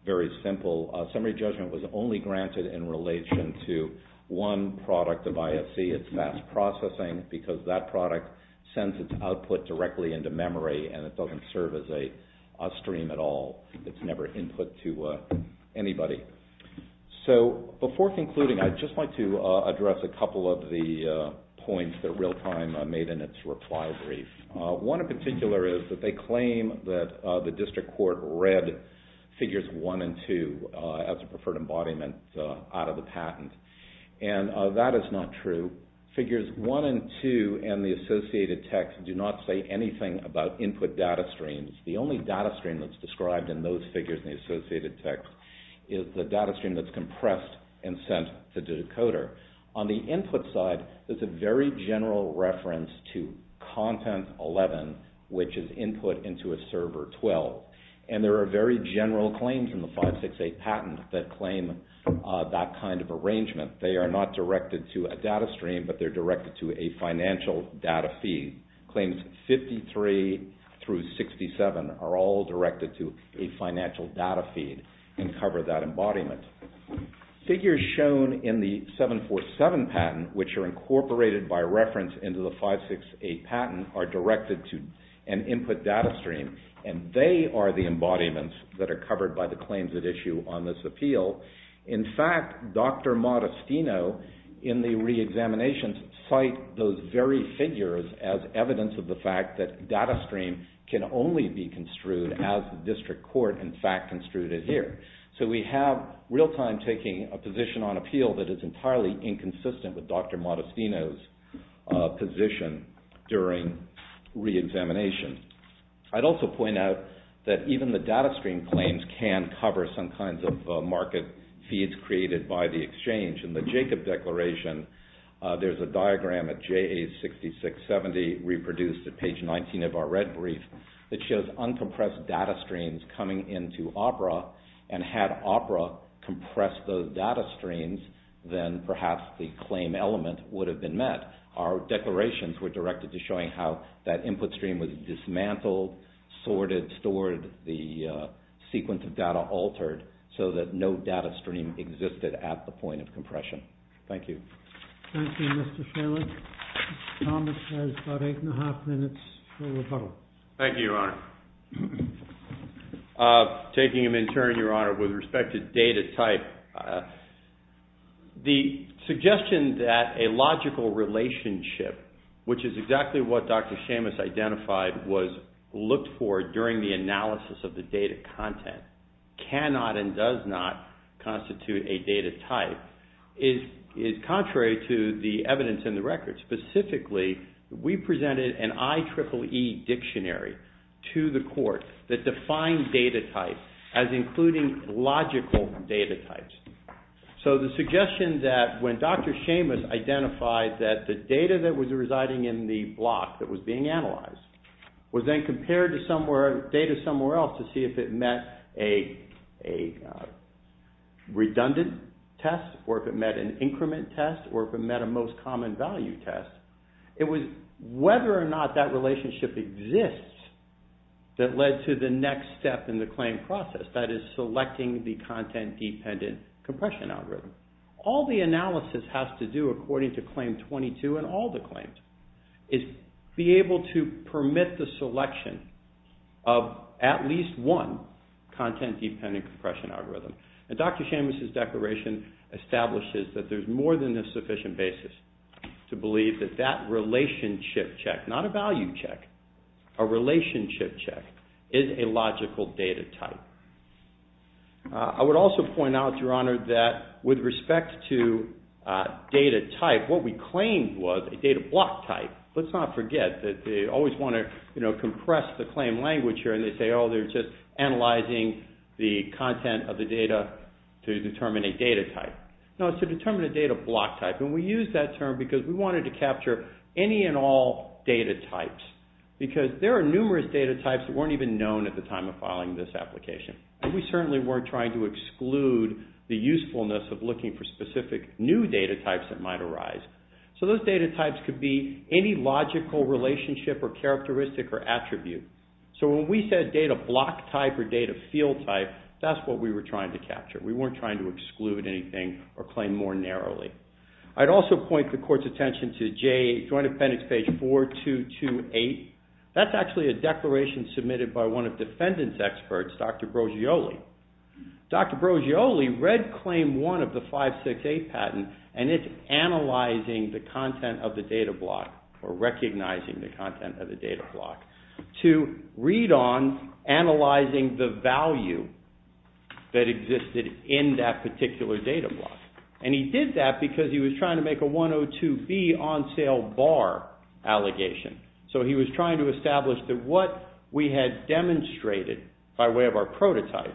very simple. Summary judgment was only granted in relation to one product of IFC it's fast processing because that product sends its output directly into memory and it doesn't serve as a stream at all. It's never input to anybody. So before concluding I'd just like to address a couple of the points that real time made in its reply brief. One in particular is that they claim that the district court read figures 1 and 2 as a preferred embodiment out of the patent. And that is not true. Figures 1 and 2 in the associated text about input data streams. The only data stream that's described in those figures in the associated text is the data stream that's compressed and sent to the decoder. On the input side there's a very general reference to content 11 which is input into a server 12. And there are very general claims in the 568 patent that claim that kind of arrangement. They are not directed to a data stream but they're directed to a financial data feed. Claims 53 through 67 are all directed to a financial data feed and cover that embodiment. Figures shown in the 747 patent which are incorporated by reference into the 568 patent are directed to an input data stream and they are the embodiments that are covered by the claims at issue on this appeal. In fact, Dr. Modestino in the reexamination cite those very figures as evidence of the fact that data stream can only be construed as the district court in fact construed it here. So we have real time taking a position on appeal that is entirely inconsistent with Dr. Modestino's position during reexamination. I'd also point out that even the data stream claims can cover some kinds of market feeds created by the exchange. In the Jacob Declaration there's a diagram at JA6670 reproduced at page 19 of our red brief that shows uncompressed data streams coming into OPERA and had OPERA compressed those data streams then perhaps the claim element would have been met. Our declarations were directed to showing how that input stream was dismantled, sorted, stored, the sequence of data altered so that no data stream existed at the point of compression. Thank you. Thank you, Mr. Sherwood. Thomas has about eight and a half minutes for rebuttal. Thank you, Your Honor. Taking them in turn, Your Honor, with respect to data type, the suggestion that a logical relationship which is exactly what Dr. Seamus identified was looked for during the analysis of the data content cannot and does not constitute a data type is contrary to the evidence in the record. Specifically, we presented an IEEE dictionary to the court that defined data type as including logical data types. So the suggestion that when Dr. Seamus identified that the data that was residing in the block that was being analyzed was then compared to data somewhere else to see if it met a redundant test or if it met an increment test or if it met a most common value test, it was whether or not that relationship exists that led to the next step in the claim process, that is selecting the content-dependent compression algorithm. All the analysis has to do according to Claim 22 and all the claims is be able to permit the selection of at least one content-dependent compression algorithm. Dr. Seamus' declaration establishes that there's more than a sufficient basis to believe that that relationship check, not a value check, a relationship check, is a logical data type. I would also point out, Your Honor, that with respect to data type, what we claimed was a data block type. Let's not forget that they always want to, you know, compress the claim language here and they say, oh, they're just analyzing the content of the data to determine a data type. No, it's to determine a data block type and we use that term because we wanted to capture any and all data types because there are numerous data types that weren't even known at the time of filing this application and we certainly weren't trying to exclude the usefulness of looking for specific new data types that might arise. So those data types could be any logical relationship or characteristic or attribute. So when we said data block type or data field type, that's what we were trying to capture. We weren't trying to exclude anything or claim more narrowly. I'd also point the Court's attention to Joint Appendix page 4228. That's actually a declaration submitted by one of the defendant's experts, Dr. Brogioli. Dr. Brogioli read claim one of the 568 patent and it's analyzing the content of the data block or recognizing the content of the data block to read on analyzing the value that existed in that particular data block and he did that because he was trying to make a 102B on sale bar allegation. So he was trying to establish that what we had demonstrated by way of our prototype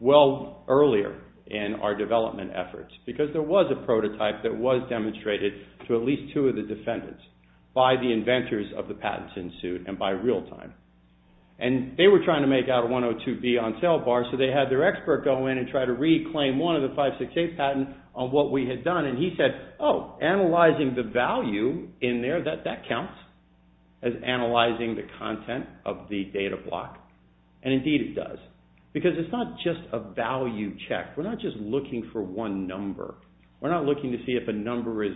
well earlier in our development efforts because there was a prototype that was demonstrated to at least two of the defendants by the inventors of the patents in suit and by real time. And they were trying to make out a 102B on sale bar so they had their expert go in and try to reclaim one of the 568 patents on what we had done and he said, oh, analyzing the value in there, that counts as analyzing the content of the data block and indeed it does because it's not just a value check. We're not just looking for one number. We're not looking to see if a number is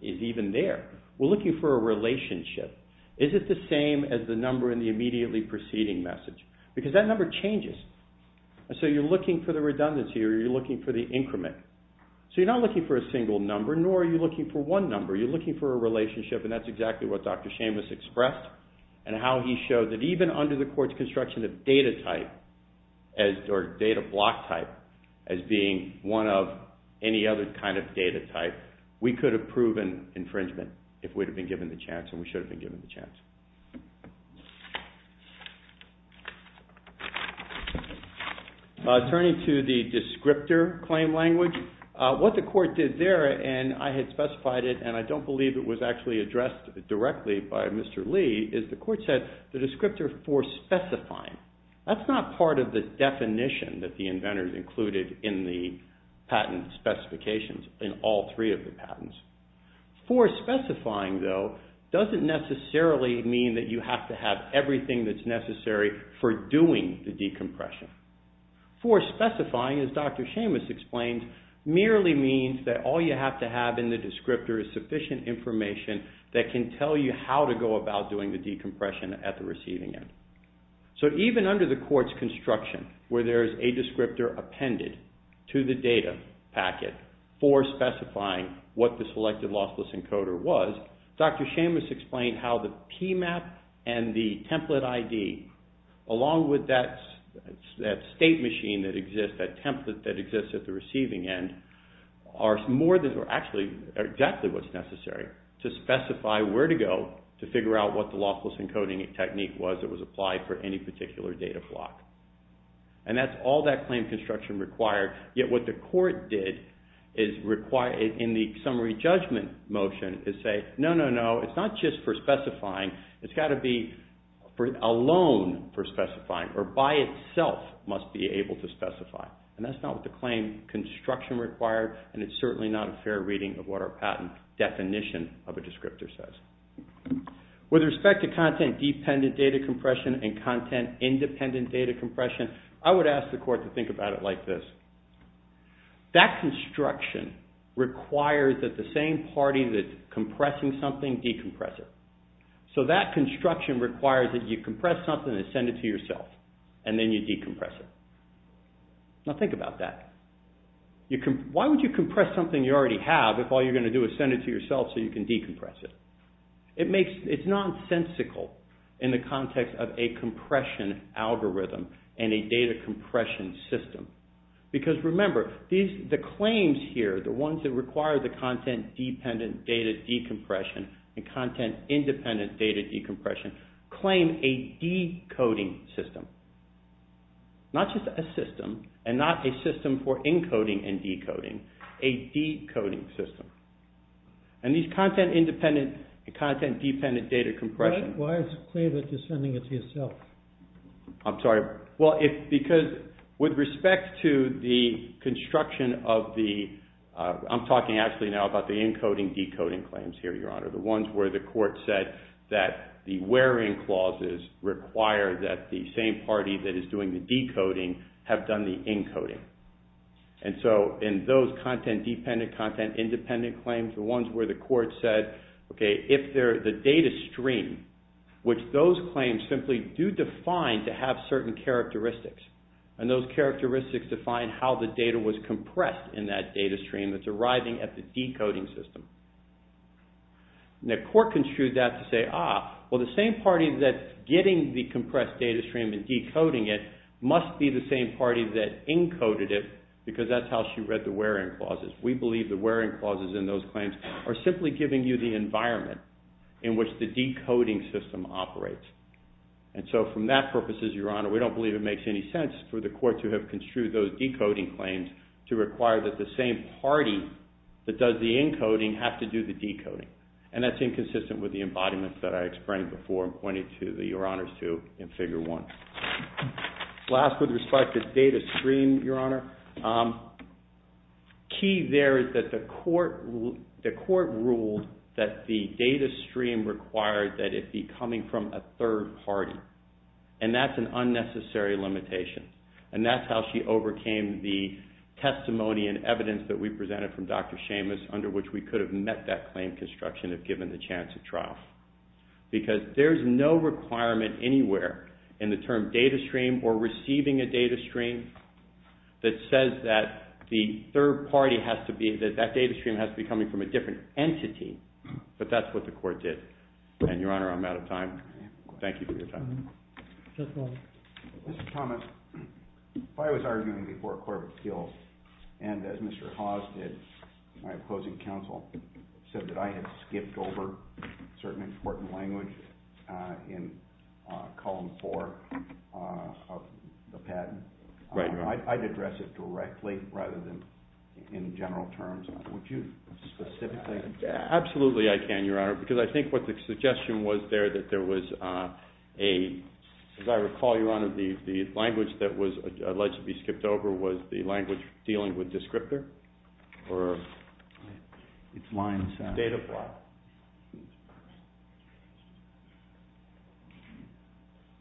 even there. We're looking for a relationship. Is it the same as the number in the immediately proceeding message because that number changes so you're looking for the redundancy or you're looking for the increment. So you're not looking for a single number nor are you looking for one number. You're looking for a relationship and that's exactly what Dr. Seamus expressed and how he showed that even under the court's construction of data type or data block type as being one of any other kind of data type, we could have proven infringement if we'd have been given the chance and we should have been given the chance. Turning to the descriptor claim language, what the court did there and I had specified it and I don't believe it was actually addressed directly by Mr. Lee is the court said the descriptor for specifying. That's not part of the definition that the inventor included in the patent specifications in all three of the patents. For specifying, though, doesn't necessarily mean that you have to have everything that's necessary for doing the decompression. For specifying, as Dr. Seamus explained, merely means that all you have to have in the descriptor is sufficient information that can tell you how to go about doing the decompression at the receiving end. So even under the court's construction where there is a descriptor appended to the data packet for specifying what the selected lossless encoder was, Dr. Seamus explained how the PMAP and the template ID along with that state machine that exists, that template that exists at the receiving end are more than or actually are exactly what's necessary to specify where to go to figure out what the lossless encoding technique was that was applied for any particular data flock. And that's all that claim construction required, yet what the court did is require in the summary judgment motion is say, no, no, no, it's not just for specifying, it's got to be alone for specifying or by itself must be able to specify. And that's not the claim construction required and it's certainly not a fair reading of what our patent definition of a descriptor says. With respect to content dependent data compression and content independent data compression, I would ask the court to think about it like this. That construction requires that the same party that's compressing something, decompress it. So that construction requires that you compress something and send it to yourself and then you decompress it. Now think about that. Why would you compress something you already have if all you're going to do is send it to yourself so you can decompress it? It makes, it's nonsensical in the context of a compression algorithm and a data compression system. Because remember, these, the claims here, the ones that require the content dependent data decompression and content independent data decompression claim a decoding system. Not just a system and not a system for encoding and decoding. A decoding system. And these content independent, content dependent data compression. Why is it clear that you're sending it to yourself? I'm sorry. Well it's because with respect to the construction of the, I'm talking actually now about the encoding decoding claims here, Your Honor. The ones where the court said that the wearing clauses require that the same party that is doing the decoding have done the encoding. And so, in those content dependent, content independent claims, the ones where the court said, okay, if the data stream, which those claims simply do define to have certain characteristics. And those characteristics define how the data was compressed in that data stream that's arriving at the decoding system. And the court construed that to say, ah, well the same party that's getting the compressed data stream and decoding it must be the same party that encoded it because that's how she read the wearing clauses. We believe the wearing clauses in those claims are simply giving you the environment in which the decoding system operates. And so, from that purposes, Your Honor, we don't believe it makes any sense for the court to have construed those decoding claims to require that the same party that does the encoding have to do the decoding. And that's inconsistent with the embodiments that I explained before and pointed to, Your Honor, in Figure 1. Last, with respect to data stream, Your Honor, key there is that the court ruled that the data stream required that it be coming from a third party. And that's an unnecessary limitation. And that's how she overcame the testimony and evidence that we presented from Dr. Seamus under which we could have met that claim construction if given the chance to trial. Because there's no requirement anywhere in the term data stream or receiving a data stream that says that the third party has to be, that data stream has to be coming from a different entity. But that's what the court did. And Your Honor, I'm out of time. Thank you for your time. Mr. Thomas, I was arguing before a court of appeals and as Mr. Hawes did, my opposing counsel said that I had to give over certain important language in column four of the patent. I'd address it directly rather than in general terms. Would you specifically? Absolutely I can, Your Honor, because I think what the suggestion was there that there was a, as I recall, Your Honor, the language that was alleged to be stripped over was the language dealing with descriptor or data block.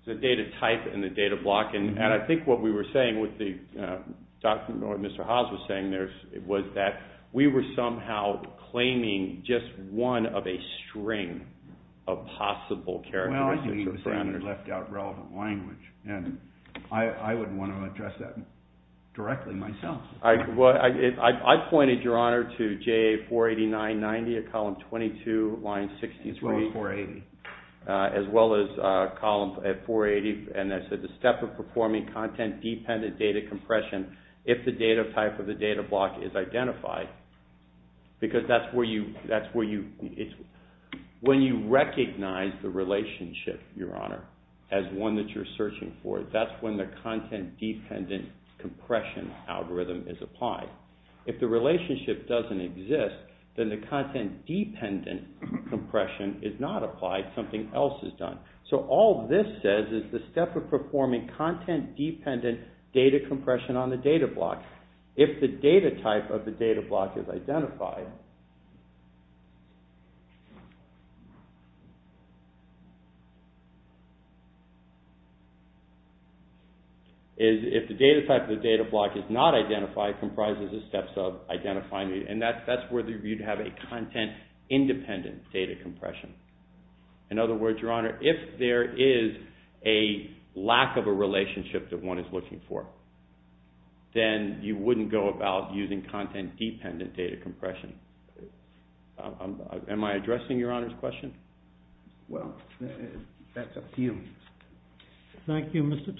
The data type and the data block. And I think what we were saying, what Mr. Hawes was saying, was that we were somehow claiming just one of a string of possible characteristics or parameters. Well, I think he was saying that he left out relevant language, and I would want to address that directly myself. I pointed, Your Honor, to JA48990 at column 22, line 61, as well as column 480, and I said the step of performing content-dependent data compression if the data type of the data block is identified. Because that's where you, that's where you, when you recognize the relationship, Your Honor, as one that you're searching for, that's when the content-dependent data compression algorithm is applied. If the relationship doesn't exist, then the content-dependent compression is not applied, something else is done. So all this says is the step of content-dependent data compression on the data block. If the data type of the data block is identified, if the data type of the data block is not identified, comprises the steps of identifying the, and that's where you'd have a content-independent data compression. In other words, Your Honor, if there is a lack of a relationship that one is looking for, then you wouldn't go about using content-dependent data compression. Am I addressing Your Honor's question? Well, that's up to you. Thank you, Mr. Thomas.